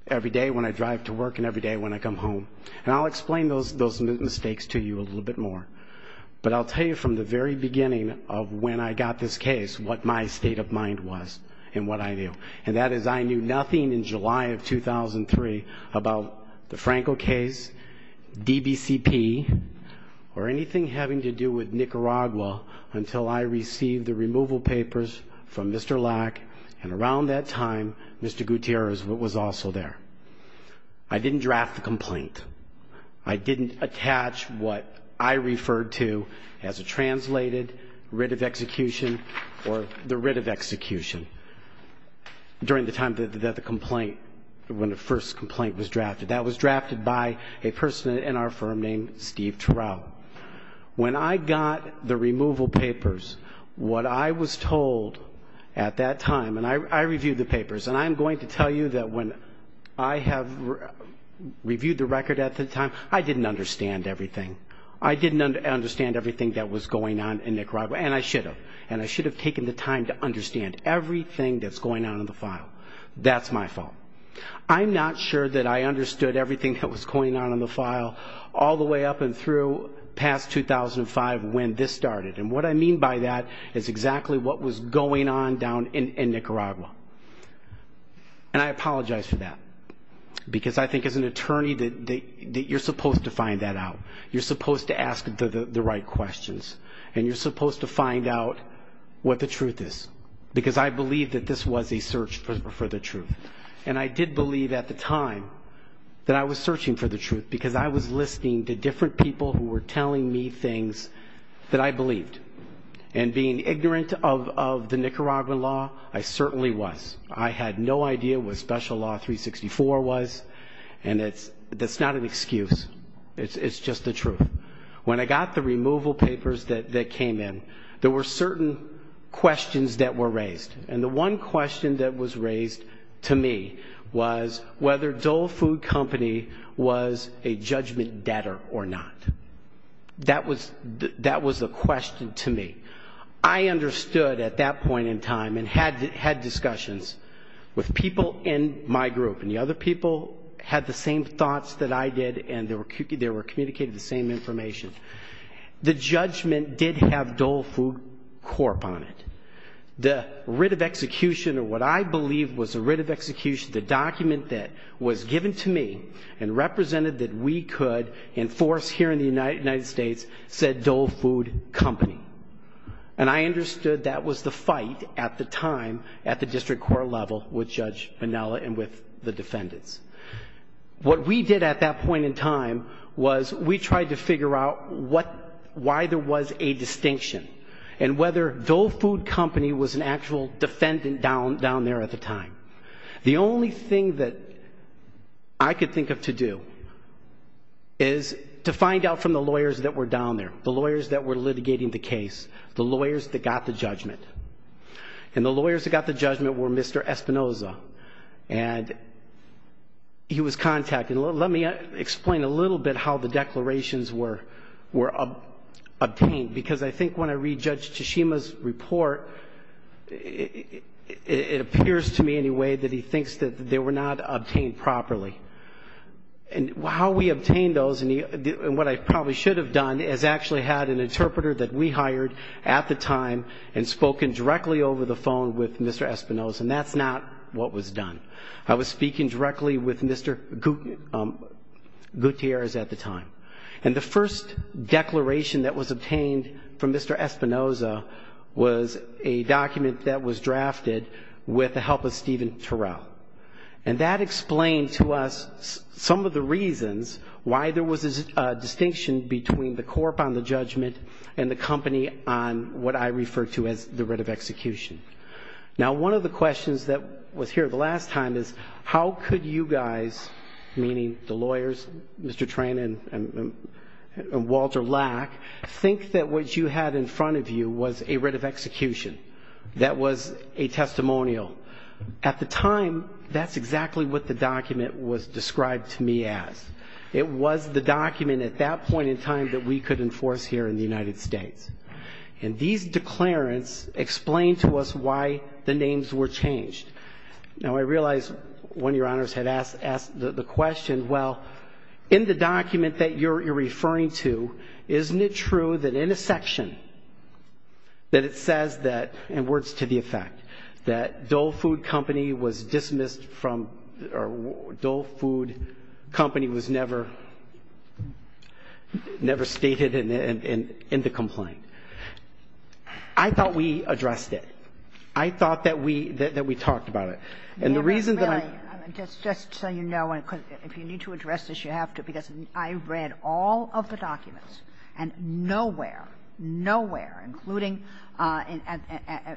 Every day when I drive to work and every day when I come home. And I'll explain those mistakes to you a little bit more. But I'll tell you from the very beginning of when I got this case, what my state of mind was and what I knew. And that is I knew nothing in July of 2003 about the Franco case, DBCP, or anything having to do with Nicaragua until I received the removal papers from Mr. Lack. And around that time, Mr. Gutierrez was also there. I didn't draft a complaint. I didn't attach what I referred to as a translated writ of execution or the writ of execution. During the time that the complaint, when the first complaint was drafted, that was drafted by a person in our firm named Steve Terrell. When I got the removal papers, what I was told at that time, and I reviewed the papers, and I'm going to tell you that when I have reviewed the record at the time, I didn't understand everything. I didn't understand everything that was going on in Nicaragua. And I should have. And I should have taken the time to understand everything that's going on in the file. That's my fault. I'm not sure that I understood everything that was going on in the file all the way up and through past 2005 when this started. And what I mean by that is exactly what was going on down in Nicaragua. And I apologize for that. Because I think as an attorney, that you're supposed to find that out. You're supposed to ask the right questions. And you're supposed to find out what the truth is. Because I believe that this was a search for the truth. And I did believe at the time that I was searching for the truth because I was listening to different people who were telling me things that I believed. And being ignorant of the Nicaraguan law, I certainly was. I had no idea what Special Law 364 was. And that's not an excuse. It's just the truth. When I got the removal papers that came in, there were certain questions that were raised. And the one question that was raised to me was whether Dole Food Company was a judgment debtor or not. That was the question to me. I understood at that point in time and had discussions with people in my group. And the other people had the same thoughts that I did and they were communicating the same information. The judgment did have Dole Food Corp on it. The writ of execution or what I believe was the writ of execution, the document that was given to me and represented that we could enforce here in the United States said Dole Food Company. And I understood that was the fight at the time at the district court level with Judge Vanella and with the defendants. What we did at that point in time was we tried to figure out why there was a distinction and whether Dole Food Company was an actual defendant down there at the time. The only thing that I could think of to do is to find out from the lawyers that were down there, the lawyers that were litigating the case, the lawyers that got the judgment. And the lawyers that got the judgment were Mr. Espinoza. And he was contacted. Let me explain a little bit how the declarations were obtained because I think when I read Judge Tsushima's report, it appears to me in a way that he thinks that they were not obtained properly. And how we obtained those and what I probably should have done is actually had an interpreter that we hired at the time and spoken directly over the phone with Mr. Espinoza and that's not what was done. I was speaking directly with Mr. Gutierrez at the time. And the first declaration that was obtained from Mr. Espinoza was a document that was drafted with the help of Stephen Turrell. And that explained to us some of the reasons why there was a distinction between the court on the judgment and the company on what I refer to as the writ of execution. Now, one of the questions that was here the last time is how could you guys, meaning the lawyers, Mr. Tran and Walter Lack, think that what you had in front of you was a writ of execution that was a testimonial? At the time, that's exactly what the document was described to me as. It was the document at that point in time that we could enforce here in the United States. And these declarants explain to us why the names were changed. Now, I realize one of your honors had asked the question, well, in the document that you're referring to, isn't it true that in a section that it says that, and words to the effect, that Dole Food Company was dismissed from, Dole Food Company was never stated in the complaint. I thought we addressed it. I thought that we talked about it. And the reason that I... Really, just so you know, if you need to address this, you have to, because I read all of the documents and nowhere, nowhere, including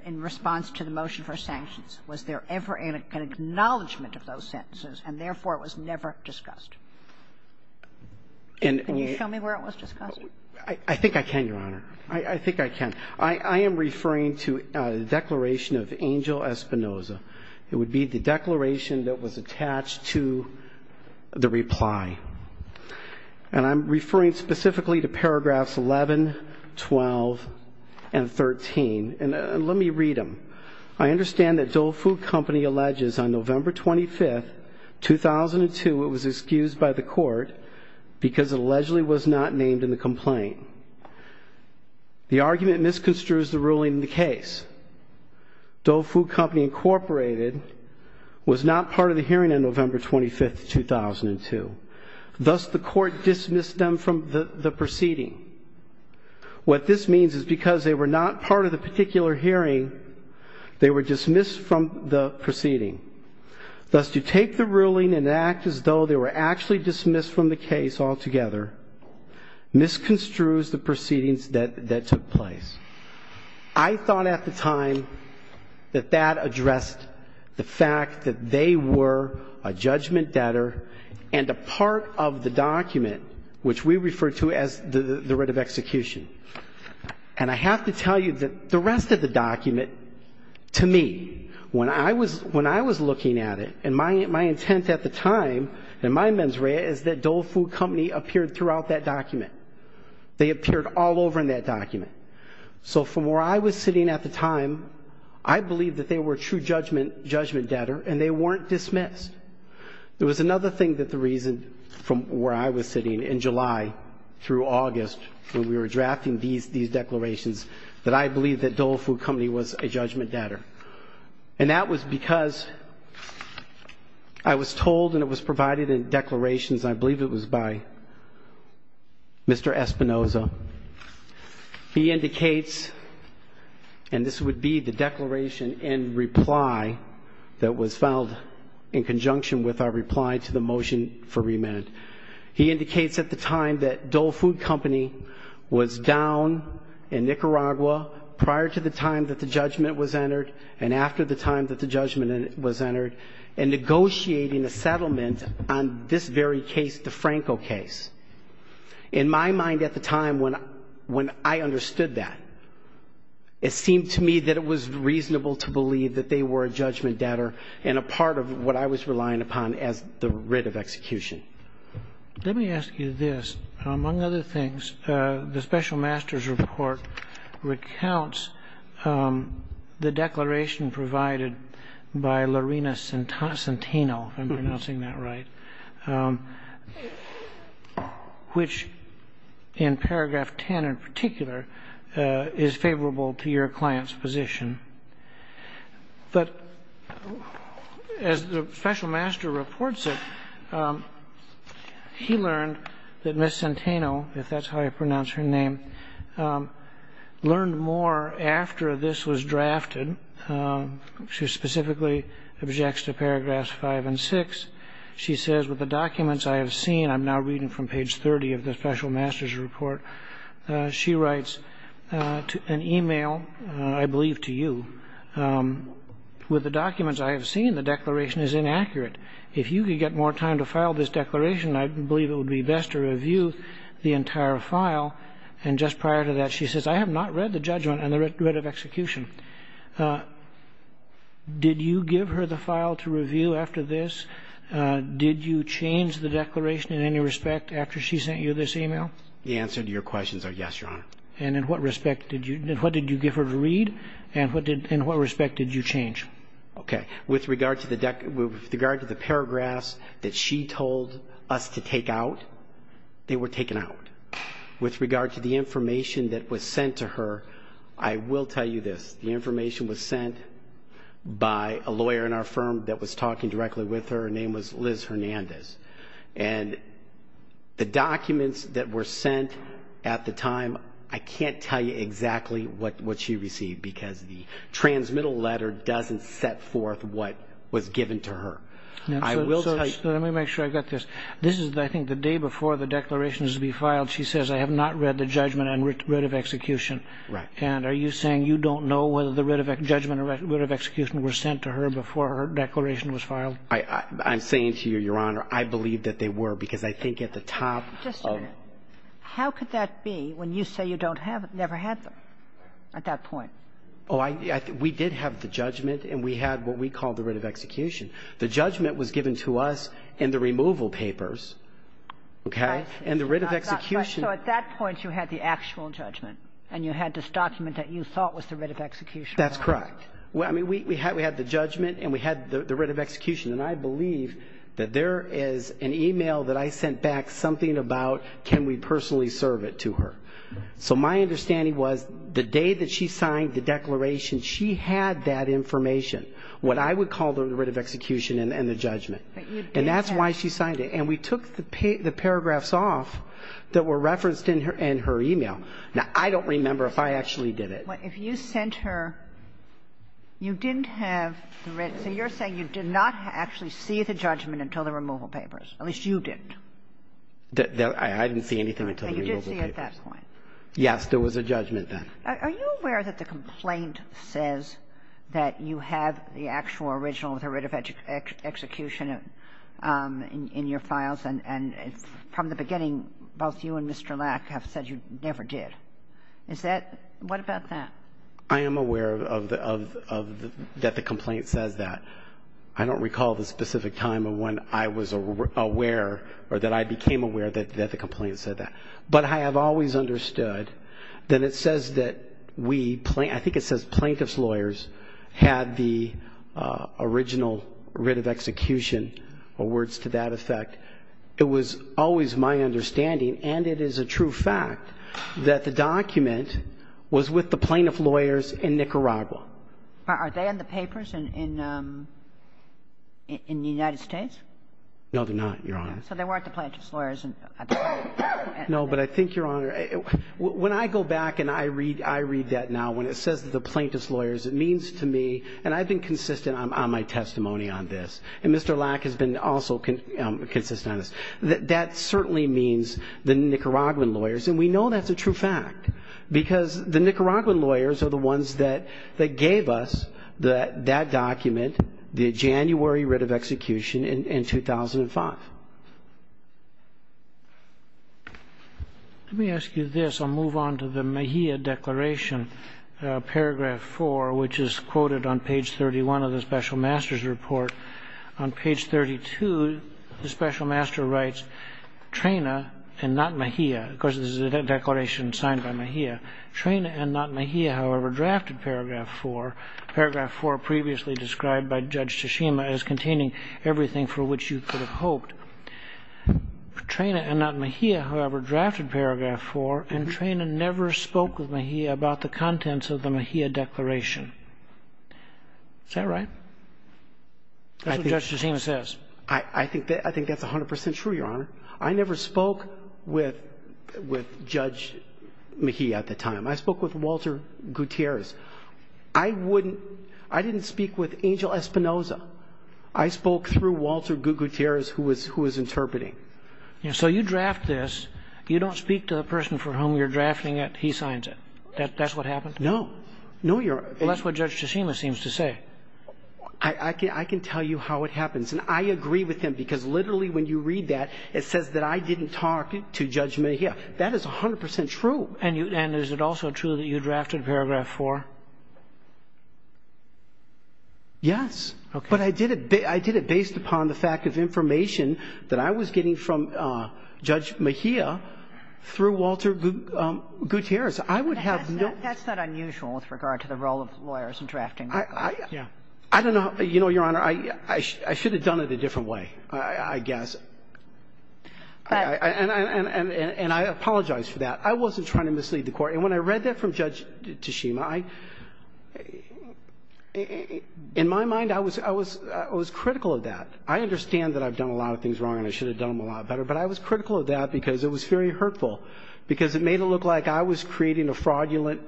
in response to the motion for sanctions, was there ever an acknowledgement of those sentences and therefore it was never discussed. Can you tell me where it was discussed? I think I can, Your Honor. I think I can. I am referring to a declaration of Angel Espinoza. It would be the declaration that was attached to the reply. And I'm referring specifically to paragraphs 11, 12, and 13. And let me read them. I understand that Dole Food Company alleges on November 25th, 2002, it was excused by the court because it allegedly was not named in the complaint. The argument misconstrues the ruling in the case. Dole Food Company, Incorporated was not part of the hearing on November 25th, 2002. Thus, the court dismissed them from the proceeding. What this means is because they were not part of the particular hearing, they were dismissed from the proceeding. Thus, to take the ruling and act as though they were actually dismissed from the case altogether misconstrues the proceedings that took place. I thought at the time that that addressed the fact that they were a judgment debtor and a part of the document, which we refer to as the writ of execution. And I have to tell you that the rest of the document, to me, when I was looking at it, and my intent at the time, and my mens rea is that Dole Food Company appeared throughout that document. They appeared all over in that document. So from where I was sitting at the time, I believe that they were true judgment debtor and they weren't dismissed. There was another thing that the reason from where I was sitting in July through August when we were drafting these declarations, that I believe that Dole Food Company was a judgment debtor. And that was because I was told and it was provided in declarations, I believe it was by Mr. Espinoza. He indicates, and this would be the declaration in reply that was filed in conjunction with our reply to the motion for remand. He indicates at the time that Dole Food Company was down in Nicaragua prior to the time that the judgment was entered and after the time that the judgment was entered and negotiating a settlement on this very case, the Franco case. In my mind at the time when I understood that, it seemed to me that it was reasonable to believe that they were a judgment debtor and a part of what I was relying upon as the writ of execution. Let me ask you this. Among other things, the special master's report recounts the declaration provided by Lorena Centeno, if I'm pronouncing that right, which in paragraph 10 in particular is favorable to your client's position. But as the special master reports it, he learned that Ms. Centeno, if that's how I pronounce her name, learned more after this was drafted. She specifically objects to paragraphs 5 and 6. She says, with the documents I have seen, I'm now reading from page 30 of the special master's report. She writes an email, I believe to you, with the documents I have seen, the declaration is inaccurate. If you could get more time to file this declaration, I believe it would be best to review the entire file. And just prior to that, she says, I have not read the judgment and the writ of execution. Did you give her the file to review after this? Did you change the declaration in any respect after she sent you this email? The answer to your question is yes, Your Honor. And in what respect did you give her to read? And in what respect did you change? Okay. With regard to the paragraphs that she told us to take out, they were taken out. With regard to the information that was sent to her, I will tell you this. The information was sent by a lawyer in our firm that was talking directly with her. Her name was Liz Hernandez. And the documents that were sent at the time, I can't tell you exactly what she received because the transmittal letter doesn't set forth what was given to her. So let me make sure I've got this. This is, I think, the day before the declaration is to be filed. She says, I have not read the judgment and writ of execution. Right. And are you saying you don't know whether the writ of judgment and writ of execution were sent to her before her declaration was filed? I'm saying to you, Your Honor, I believe that they were because I think at the top of... Just a minute. How could that be when you say you don't have it, never had them at that point? Oh, we did have the judgment and we had what we call the writ of execution. The judgment was given to us in the removal papers, okay? And the writ of execution... So at that point, you had the actual judgment and you had this document that you thought was the writ of execution. That's correct. I mean, we had the judgment and we had the writ of execution. And I believe that there is an email that I sent back something about, can we personally serve it to her? So my understanding was the day that she signed the declaration, she had that information, what I would call the writ of execution and the judgment. And that's why she signed it. And we took the paragraphs off that were referenced in her email. Now, I don't remember if I actually did it. But if you sent her, you didn't have the writ... So you're saying you did not actually see the judgment until the removal papers, at least you didn't. I didn't see anything until the removal papers. So you didn't see at that point? Yes, there was a judgment then. Are you aware that the complaint says that you have the actual original with a writ of execution in your files? And from the beginning, both you and Mr. Lack have said you never did. Is that, what about that? I am aware that the complaint said that. I don't recall the specific time of when I was aware or that I became aware that the complaint said that. But I have always understood that it says that we, I think it says plaintiff's lawyers had the original writ of execution, or words to that effect. It was always my understanding, and it is a true fact, that the document was with the plaintiff lawyers in Nicaragua. Are they in the papers in the United States? No, they're not, Your Honor. So they weren't the plaintiff's lawyers? No, but I think, Your Honor, when I go back and I read that now, when it says the plaintiff's lawyers, it means to me, and I've been consistent on my testimony on this, and Mr. Lack has been also consistent on this, that that certainly means the Nicaraguan lawyers. And we know that's a true fact because the Nicaraguan lawyers are the ones that gave us that document, the January writ of execution in 2005. Let me ask you this. I'll move on to the Mejia Declaration, paragraph four, which is quoted on page 31 of the special master's report. On page 32, the special master writes, Trena and not Mejia, of course, this is a declaration signed by Mejia. Trena and not Mejia, however, drafted paragraph four, paragraph four previously described by Judge Tashima as containing everything for which you could have hoped. Trena and not Mejia, however, drafted paragraph four, and Trena never spoke with Mejia about the contents of the Mejia Declaration. Is that right? That's what Judge Tashima says. I think that's 100% true, Your Honor. I never spoke with Judge Mejia at the time. I spoke with Walter Gutierrez. I didn't speak with Angel Espinoza. I spoke through Walter Gutierrez who was interpreting. So you draft this, you don't speak to the person for whom you're drafting it, he signs it. That's what happens? No, no, Your Honor. Well, that's what Judge Tashima seems to say. I can tell you how it happens, and I agree with him because literally when you read that, it says that I didn't talk to Judge Mejia. That is 100% true. And is it also true that you drafted paragraph four? Yes, but I did it based upon the fact of information that I was getting from Judge Mejia through Walter Gutierrez. I would have no... That's not unusual with regard to the role of lawyers in drafting. I don't know. You know, Your Honor, I should have done it a different way, I guess. And I apologize for that. I wasn't trying to mislead the court. And when I read that from Judge Tashima, in my mind, I was critical of that. I understand that I've done a lot of things wrong, and I should have done them a lot better, but I was critical of that because it was very hurtful because it made it look like I was creating a fraudulent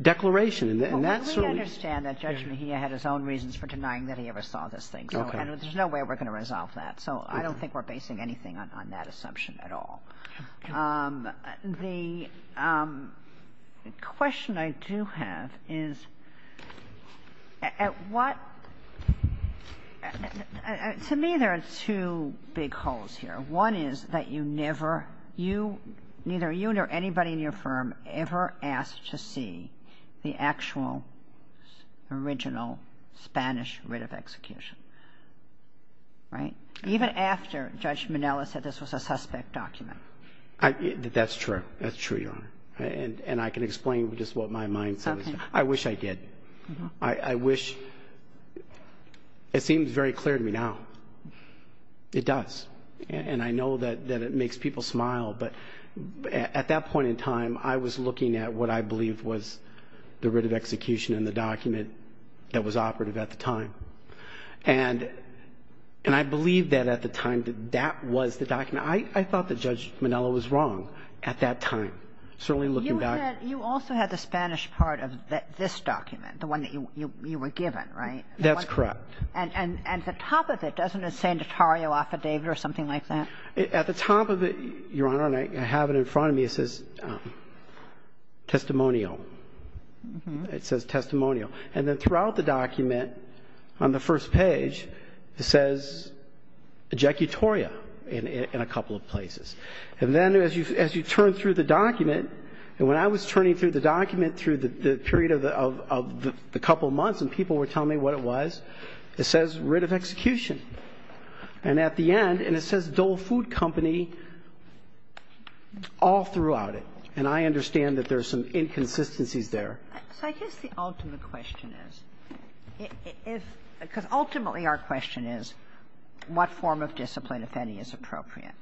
declaration. And that's... We understand that Judge Mejia had his own reasons for denying that he ever saw this thing, and there's no way we're going to resolve that. So I don't think we're basing anything on that assumption at all. The question I do have is, at what... To me, there are two big holes here. One is that you never... Neither you nor anybody in your firm ever asked to see the actual, original Spanish writ of execution. Right? Even after Judge Minella said this was a suspect document. That's true. That's true, Your Honor. And I can explain just what my mind... Okay. I wish I did. I wish... It seems very clear to me now. It does. And I know that it makes people smile, but at that point in time, I was looking at what I believe was the writ of execution in the document that was operative at the time. And I believe that at the time that that was the document. I thought that Judge Minella was wrong at that time. Certainly looking back... You also had the Spanish part of this document, the one that you were given, right? That's correct. And at the top of it, doesn't it say notario affidavit or something like that? At the top of it, Your Honor, and I have it in front of me, it says testimonial. It says testimonial. And then throughout the document, on the first page, it says ejecutoria in a couple of places. And then as you turn through the document, and when I was turning through the document through the period of the couple of months, and people were telling me what it was, it says writ of execution. And at the end, and it says Dole Food Company all throughout it. And I understand that there's some inconsistencies there. So I guess the ultimate question is, because ultimately our question is, what form of discipline, if any, is appropriate?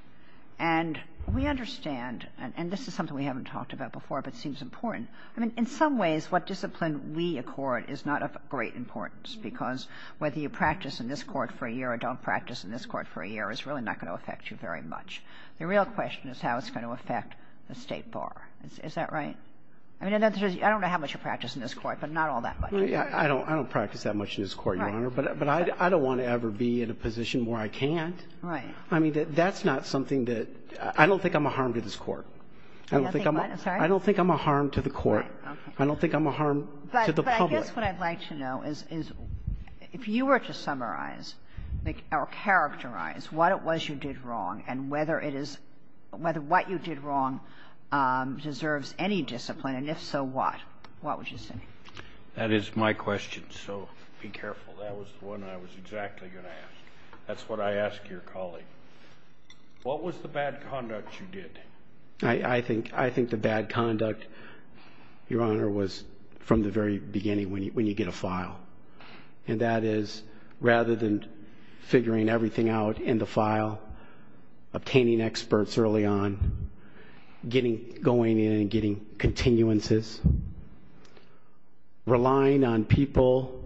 And we understand, and this is something we haven't talked about before, but it seems important. I mean, in some ways, what discipline we accord is not of great importance, because whether you practice in this court for a year or don't practice in this court for a year is really not going to affect you very much. The real question is how it's going to affect the state bar. Is that right? I mean, I don't know how much you practice in this court, but not all that much. I don't practice that much in this court, Your Honor. But I don't want to ever be in a position where I can't. Right. I mean, that's not something that, I don't think I'm a harm to this court. I don't think I'm a harm to the court. I don't think I'm a harm to the public. But I guess what I'd like to know is, if you were to summarize or characterize what it was you did wrong and whether what you did wrong deserves any discipline, and if so, what? What would you say? That is my question. So be careful. That was the one I was exactly going to ask. That's what I asked your colleague. What was the bad conduct you did? I think the bad conduct, Your Honor, was from the very beginning when you get a file. And that is, rather than figuring everything out in the file, obtaining experts early on, going in and getting continuances, relying on people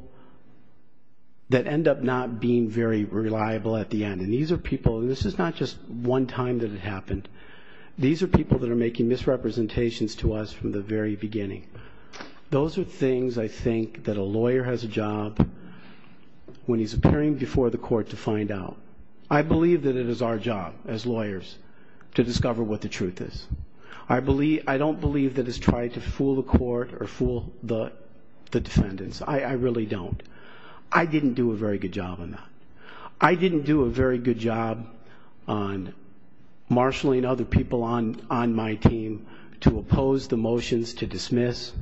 that end up not being very reliable at the end. This is not just one time that it happened. These are people that are making misrepresentations to us from the very beginning. Those are things I think that a lawyer has a job when he's appearing before the court to find out. I believe that it is our job as lawyers to discover what the truth is. I don't believe that it's trying to fool the court or fool the defendants. I really don't. I didn't do a very good job on that. I didn't do a very good job on marshalling other people on my team to oppose the motions to dismiss.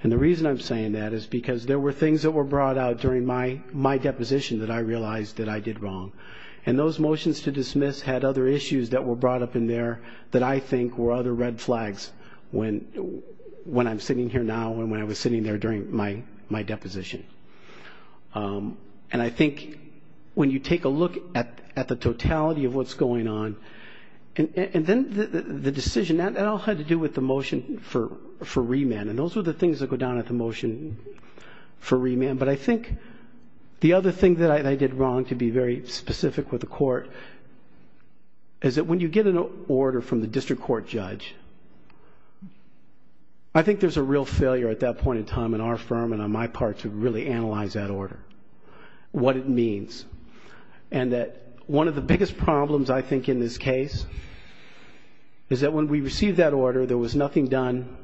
And the reason I'm saying that is because there were things that were brought out during my deposition that I realized that I did wrong. And those motions to dismiss had other issues that were brought up in there that I think were other red flags when I'm sitting here now and when I was sitting there during my deposition. And I think when you take a look at the totality of what's going on and then the decision, that all had to do with the motion for remand. And those were the things that go down at the motion for remand. But I think the other thing that I did wrong to be very specific with the court is that when you get an order from the district court judge, I think there's a real failure at that point in time in our firm and on my part to really analyze that order, what it means. And that one of the biggest problems I think in this case is that when we received that order, there was nothing done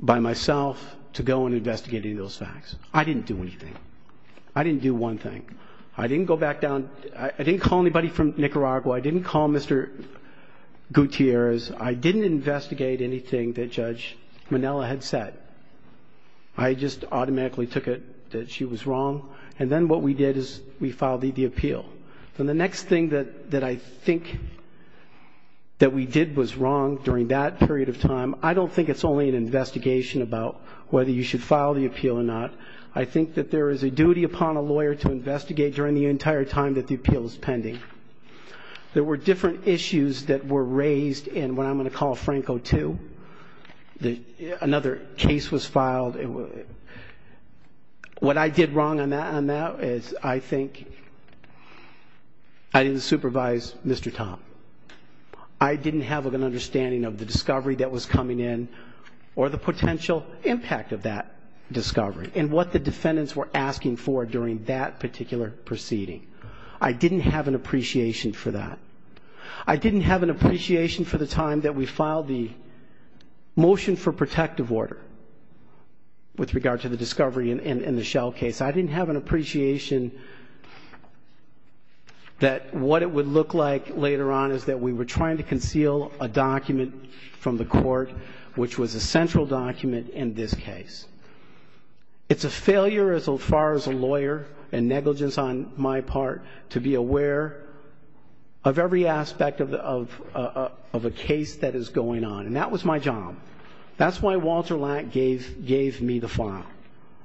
by myself to go on investigating those facts. I didn't do anything. I didn't do one thing. I didn't go back down. I didn't call anybody from Nicaragua. I didn't call Mr. Gutierrez. I didn't investigate anything that Judge Monella had said. I just automatically took it that she was wrong. And then what we did is we filed the appeal. So the next thing that I think that we did was wrong during that period of time, I don't think it's only an investigation about whether you should file the appeal or not. I think that there is a duty upon a lawyer to investigate during the entire time that the appeal is pending. There were different issues that were raised in what I'm gonna call Franco II, that another case was filed. What I did wrong on that is I think I didn't supervise Mr. Tom. I didn't have an understanding of the discovery that was coming in or the potential impact of that discovery and what the defendants were asking for during that particular proceeding. I didn't have an appreciation for that. I didn't have an appreciation for the time that we filed the motion for protective order with regard to the discovery in the Shell case. I didn't have an appreciation that what it would look like later on is that we were trying to conceal a document from the court which was a central document in this case. It's a failure as far as a lawyer and negligence on my part to be aware of every aspect of a case that is going on. And that was my job. That's why Walter Lank gave me the file.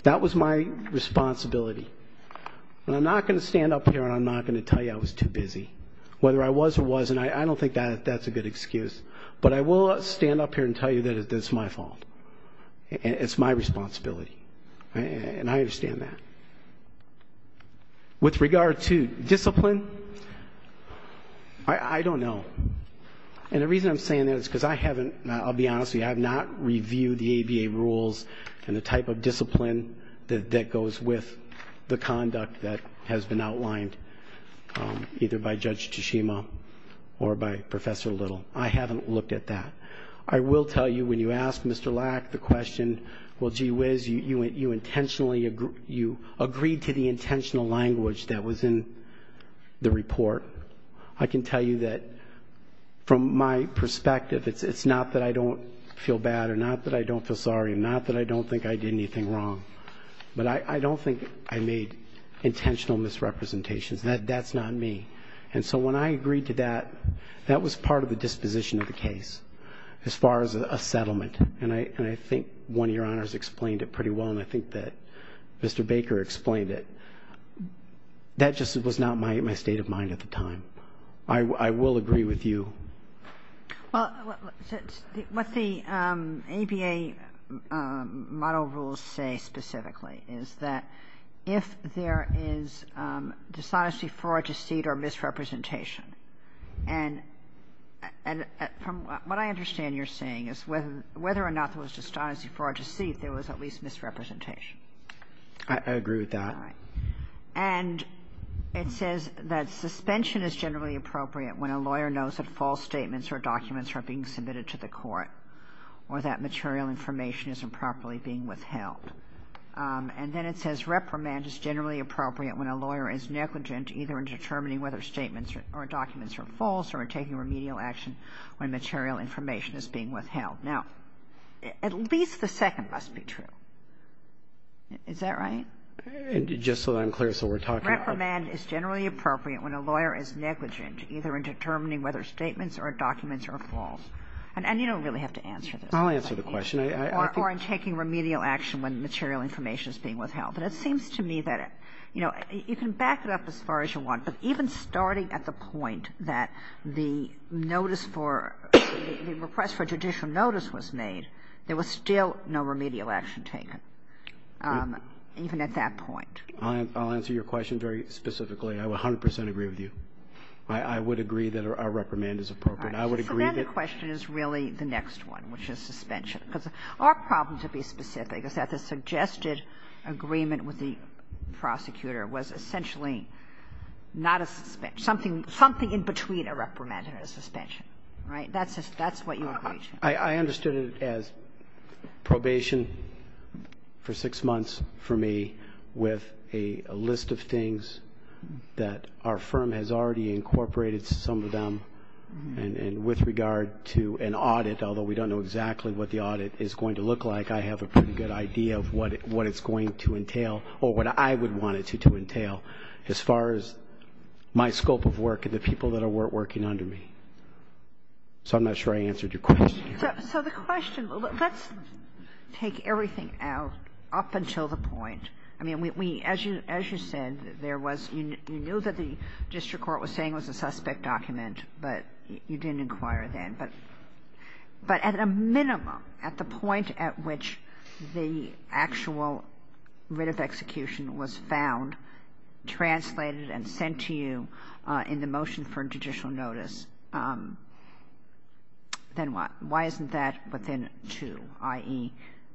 That was my responsibility. And I'm not gonna stand up here and I'm not gonna tell you I was too busy. Whether I was or wasn't, I don't think that's a good excuse. But I will stand up here and tell you that it's my fault. It's my responsibility and I understand that. With regard to discipline, I don't know. And the reason I'm saying that is because I haven't, I'll be honest with you, I have not reviewed the ADA rules and the type of discipline that goes with the conduct that has been outlined either by Judge Tsushima or by Professor Little. I haven't looked at that. I will tell you when you ask Mr. Lack the question, well gee whiz, you agreed to the intentional language that was in the report. I can tell you that from my perspective, it's not that I don't feel bad or not that I don't feel sorry and not that I don't think I did anything wrong. But I don't think I made intentional misrepresentations. That's not me. And so when I agreed to that, that was part of the disposition of the case as far as a settlement. And I think one of your honors explained it pretty well and I think that Mr. Baker explained it. That just was not my state of mind at the time. I will agree with you. Well, what the ADA model rules say specifically is that if there is dishonesty, fraud, deceit or misrepresentation and from what I understand you're saying whether or not there was dishonesty, fraud, deceit, there was at least misrepresentation. I agree with that. And it says that suspension is generally appropriate when a lawyer knows that false statements or documents are being submitted to the court or that material information is improperly being withheld. And then it says reprimand is generally appropriate when a lawyer is negligent either in determining whether statements or documents are false or taking remedial action when material information is being withheld. Now, at least the second must be true. Is that right? And just so I'm clear, so we're talking... Reprimand is generally appropriate when a lawyer is negligent either in determining whether statements or documents are false. And you don't really have to answer this. I'll answer the question. Or in taking remedial action when material information is being withheld. But it seems to me that, you know, you can back it up as far as you want. But even starting at the point that the notice for... the request for judicial notice was made, there was still no remedial action taken. Even at that point. I'll answer your question very specifically. I 100% agree with you. I would agree that a reprimand is appropriate. I would agree that... So then the question is really the next one, which is suspension. Because our problem, to be specific, is that the suggested agreement with the prosecutor was essentially not a... something in between a reprimand and a suspension, right? That's what your question is. I understood it as probation for six months for me with a list of things that our firm has already incorporated some of them. And with regard to an audit, although we don't know exactly what the audit is going to look like, I have a pretty good idea of what it's going to entail or what I would want it to entail. As far as my scope of work and the people that are working under me. So I'm not sure I answered your question. So the question, let's take everything out up until the point. I mean, as you said, you knew that the district court was saying it was a suspect document, but you didn't inquire then. But at a minimum, at the point at which the actual writ of execution was found, translated and sent to you in the motion for judicial notice, then why isn't that within two, i.e.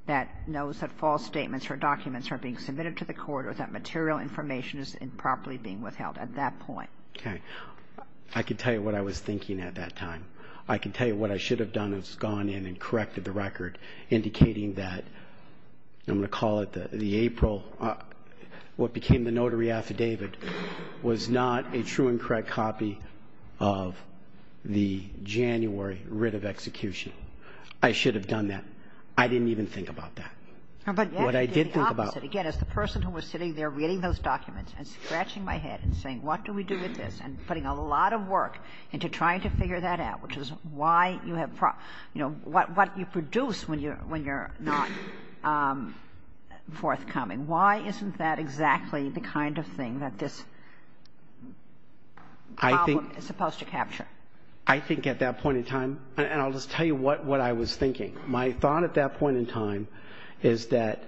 that knows that false statements or documents are being submitted to the court or that material information is improperly being withheld at that point? Okay. I can tell you what I was thinking at that time. I can tell you what I should have done is gone in and corrected the record, indicating that, I'm going to call it the April... was not a true and correct copy of the January writ of execution. I should have done that. I didn't even think about that. What I did think about... Again, as the person who was sitting there reading those documents and scratching my head and saying, what do we do with this? And putting a lot of work into trying to figure that out, which is why you have... What you produce when you're not forthcoming. Why isn't that exactly the kind of thing that this problem is supposed to capture? I think at that point in time... And I'll just tell you what I was thinking. My thought at that point in time is that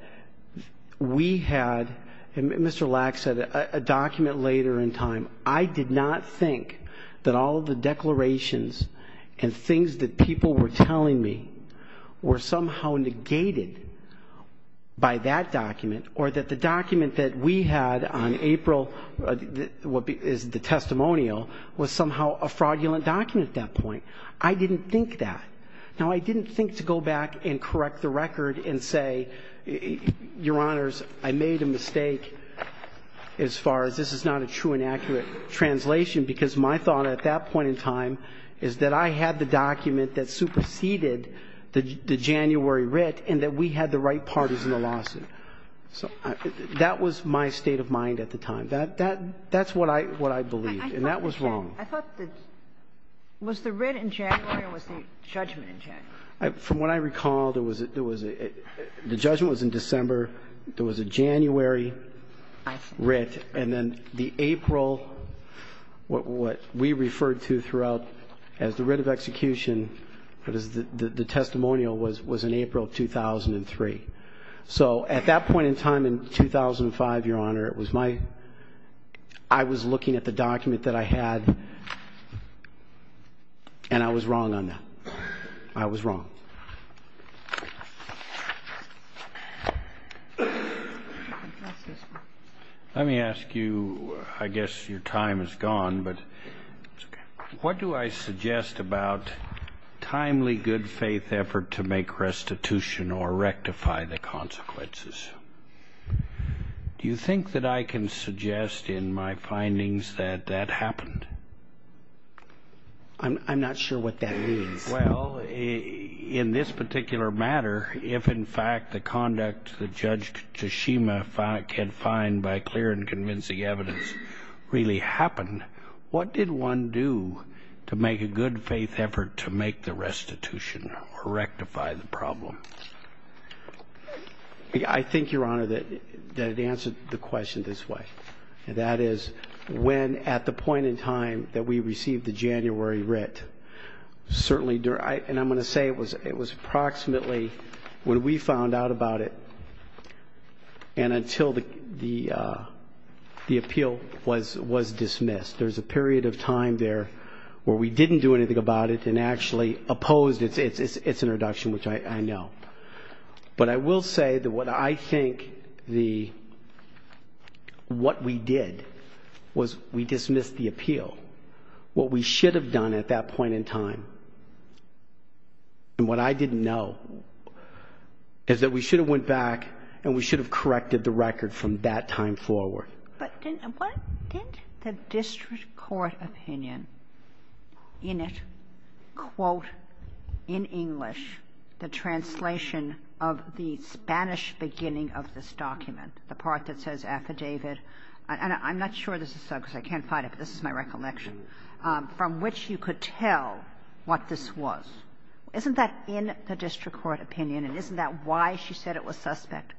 we had... Mr. Lack said a document later in time. I did not think that all of the declarations and things that people were telling me were somehow negated by that document or that the document that we had on April, what is the testimonial, was somehow a fraudulent document at that point. I didn't think that. Now, I didn't think to go back and correct the record and say, Your Honors, I made a mistake as far as this is not a true and accurate translation because my thought at that point in time is that I had the document that superseded the January writ and that we had the right parties in the lawsuit. So that was my state of mind at the time. That's what I believed and that was wrong. I thought that... Was the writ in January or was the judgment in January? From what I recall, the judgment was in December. There was a January writ and then the April, what we referred to throughout as the writ of execution for the testimonial was in April 2003. So at that point in time in 2005, Your Honor, I was looking at the document that I had and I was wrong on that. I was wrong. Let me ask you, I guess your time is gone, but what do I suggest about timely good faith effort to make restitution or rectify the consequences? Do you think that I can suggest in my findings that that happened? I'm not sure what that means. Well, in this particular matter, if in fact the conduct that Judge Kashima can find by clear and convincing evidence really happened, what did one do to make a good faith effort to make the restitution or rectify the problem? I think, Your Honor, that answers the question this way. That is when at the point in time that we received the January writ, certainly, and I'm going to say it was approximately when we found out about it and until the appeal was dismissed. There's a period of time there where we didn't do anything about it and actually opposed its introduction, which I know. But I will say that what I think what we did was we dismissed the appeal. What we should have done at that point in time and what I didn't know is that we should have went back and we should have corrected the record from that time forward. But didn't the district court opinion in it quote in English the translation of the Spanish beginning of this document, the part that says affidavit and I'm not sure this is so because I can't find it, but this is my recollection, from which you could tell what this was. Isn't that in the district court opinion and isn't that why she said it was suspect?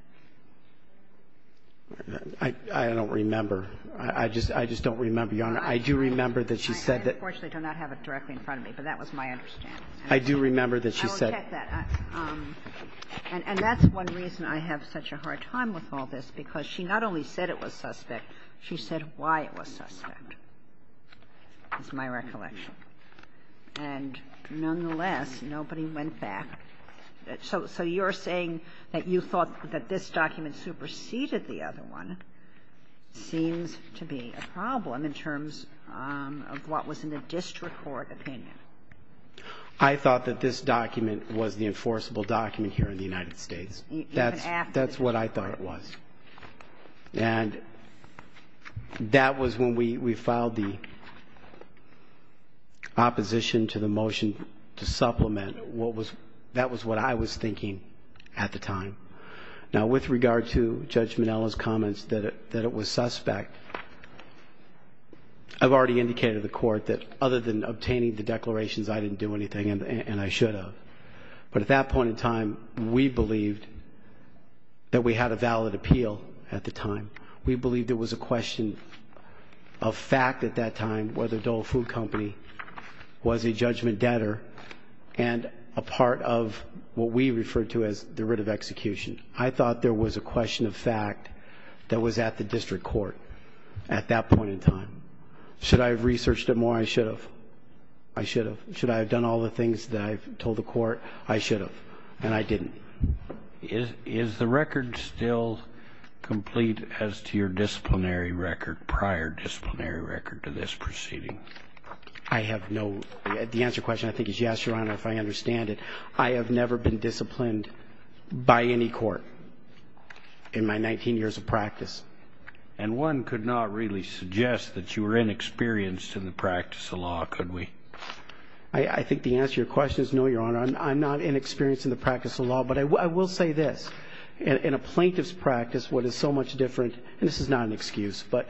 I don't remember. I just don't remember, Your Honor. I do remember that she said that. Unfortunately, I do not have it directly in front of me, but that was my understanding. I do remember that she said. I get that and that's one reason I have such a hard time with all this because she not only said it was suspect, she said why it was suspect. That's my recollection and nonetheless, nobody went back. So you're saying that you thought that this document superseded the other one seems to be a problem in terms of what was in the district court opinion. I thought that this document was the enforceable document here in the United States. That's what I thought it was and that was when we filed the opposition to the motion to supplement. That was what I was thinking at the time. Now, with regard to Judge Minnella's comments that it was suspect, I've already indicated to the court other than obtaining the declarations, I didn't do anything and I should have. But at that point in time, we believed that we had a valid appeal at the time. We believe there was a question of fact at that time whether Dole Food Company was a judgment debtor and a part of what we refer to as the writ of execution. I thought there was a question of fact that was at the district court at that point in time. Should I have researched it more? I should have. I should have. Should I have done all the things that I've told the court? I should have and I didn't. Is the record still complete as to your disciplinary record, prior disciplinary record to this proceeding? I have no... The answer to the question I think is yes, Your Honor, if I understand it. I have never been disciplined by any court in my 19 years of practice. And one could not really suggest that you were inexperienced in the practice of law, could we? I think the answer to your question is no, Your Honor. I'm not inexperienced in the practice of law, but I will say this. In a plaintiff's practice, what is so much different, and this is not an excuse, but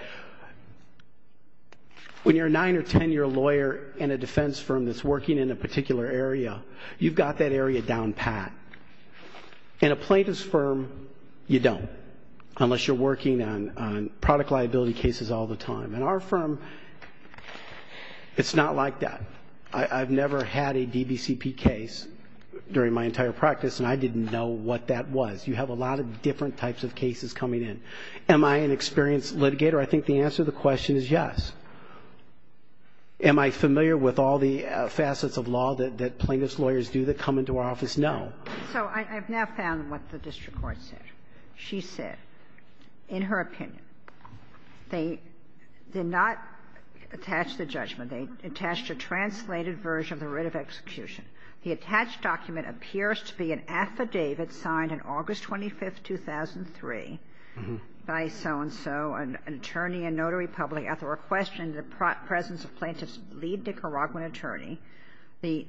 when you're a nine or 10-year lawyer in a defense firm that's working in a particular area, you've got that area down pat. In a plaintiff's firm, you don't unless you're working on product liability cases all the time. In our firm, it's not like that. I've never had a DBCP case during my entire practice, and I didn't know what that was. You have a lot of different types of cases coming in. Am I an experienced litigator? I think the answer to the question is yes. Am I familiar with all the facets of law that plaintiff's lawyers do that come into our office? No. So I've now found what the district court said. She said, in her opinion, they did not attach the judgment. They attached a translated version of the writ of execution. The attached document appears to be an affidavit signed on August 25th, 2003 by so-and-so, an attorney and notary public, after requesting the presence of plaintiff's lead Nicaraguan attorney. The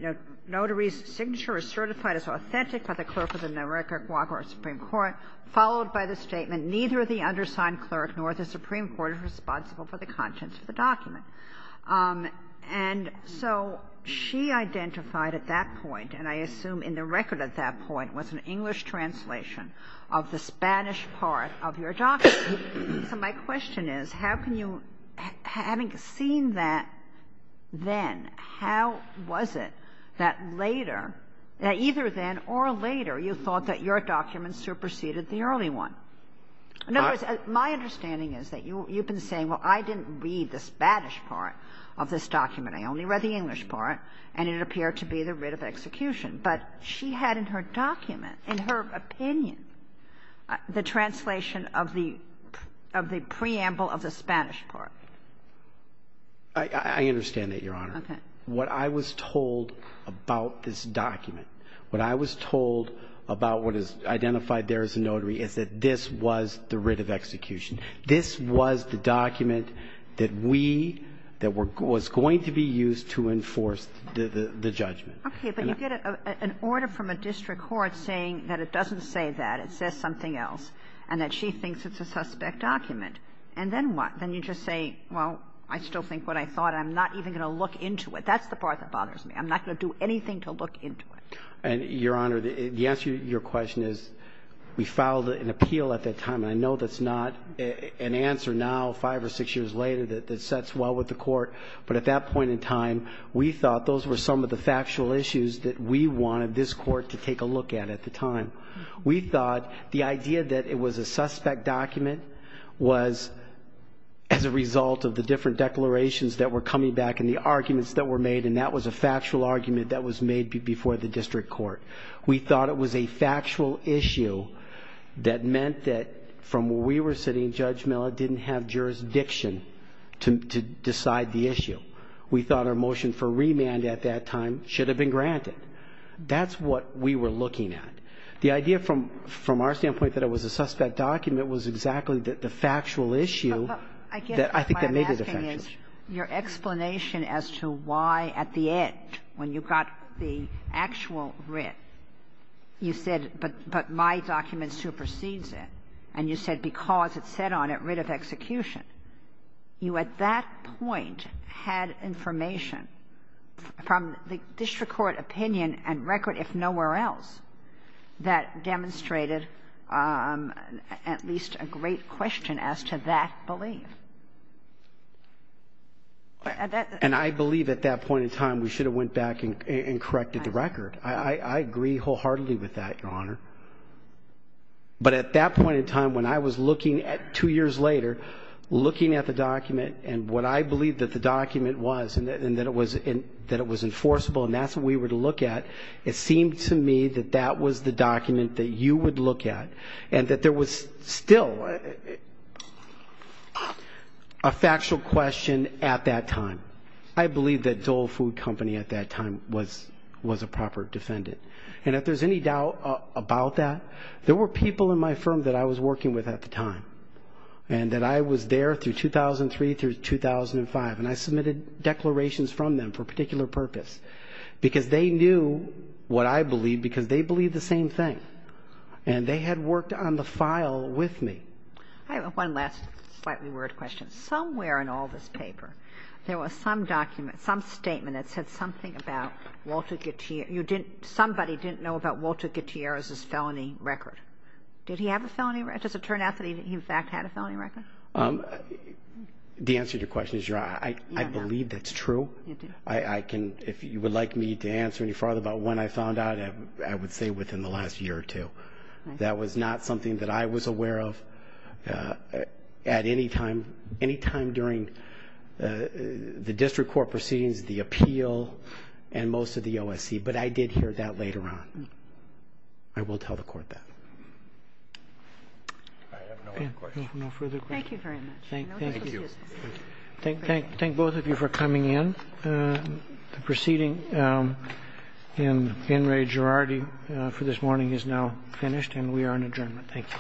notary's signature is certified as authentic by the clerk of the Nicaraguan Supreme Court, followed by the statement, neither the undersigned clerk nor the Supreme Court is responsible for the contents of the document. And so she identified at that point, and I assume in the record at that point, was an English translation of the Spanish part of your document. So my question is, how can you, having seen that then, how was it that later, that either then or later, you thought that your document superseded the early one? In other words, my understanding is that you've been saying, well, I didn't read the Spanish part of this document. I only read the English part, and it appeared to be the writ of execution. But she had in her document, in her opinion, the translation of the preamble of the Spanish part. I understand that, Your Honor. What I was told about this document, what I was told about what is identified there as a notary is that this was the writ of execution. This was the document that we, that was going to be used to enforce the judgment. Okay, but you get an order from a district court saying that it doesn't say that, it says something else, and that she thinks it's a suspect document. And then what? Then you just say, well, I still think what I thought. I'm not even going to look into it. That's the part that bothers me. I'm not going to do anything to look into it. And Your Honor, the answer to your question is, we filed an appeal at that time. I know that's not an answer now, five or six years later, that sets well with the court. But at that point in time, we thought those were some of the factual issues that we wanted this court to take a look at at the time. We thought the idea that it was a suspect document was as a result of the different declarations that were coming back and the arguments that were made. And that was a factual argument that was made before the district court. We thought it was a factual issue that meant that from where we were sitting, Judge Miller didn't have jurisdiction to decide the issue. We thought our motion for remand at that time should have been granted. That's what we were looking at. The idea from our standpoint that it was a suspect document was exactly the factual issue. I guess what I'm asking is your explanation as to why at the end, when you got the actual writ, you said, but my document supersedes it. And you said, because it said on it, writ of execution. You at that point had information from the district court opinion and record, if nowhere else, that demonstrated at least a great question as to that belief. And I believe at that point in time, we should have went back and corrected the record. I agree wholeheartedly with that, Your Honor. But at that point in time, when I was looking at two years later, looking at the document and what I believe that the document was and that it was enforceable and that's what we were to look at, it seemed to me that that was the document that you would look at and that there was still, a factual question at that time. I believe that Zoll Food Company at that time was a proper defendant. And if there's any doubt about that, there were people in my firm that I was working with at the time and that I was there through 2003 through 2005. And I submitted declarations from them for a particular purpose because they knew what I believed because they believed the same thing. And they had worked on the file with me. I have one last slightly word question. Somewhere in all this paper, there was some document, some statement that said something about Walter Gutierrez. You didn't, somebody didn't know about Walter Gutierrez's felony record. Did he have a felony record? Does it turn out that he in fact had a felony record? The answer to your question is, Your Honor, I believe that's true. If you would like me to answer any further about when I found out, I would say within the last year or two. That was not something that I was aware of. Uh, at any time, any time during the district court proceedings, the appeal and most of the OSC. But I did hear that later on. I will tell the court that. I have no further questions. Thank you very much. Thank both of you for coming in. The proceeding in Ray Girardi for this morning is now finished and we are on adjournment. Thank you. All right.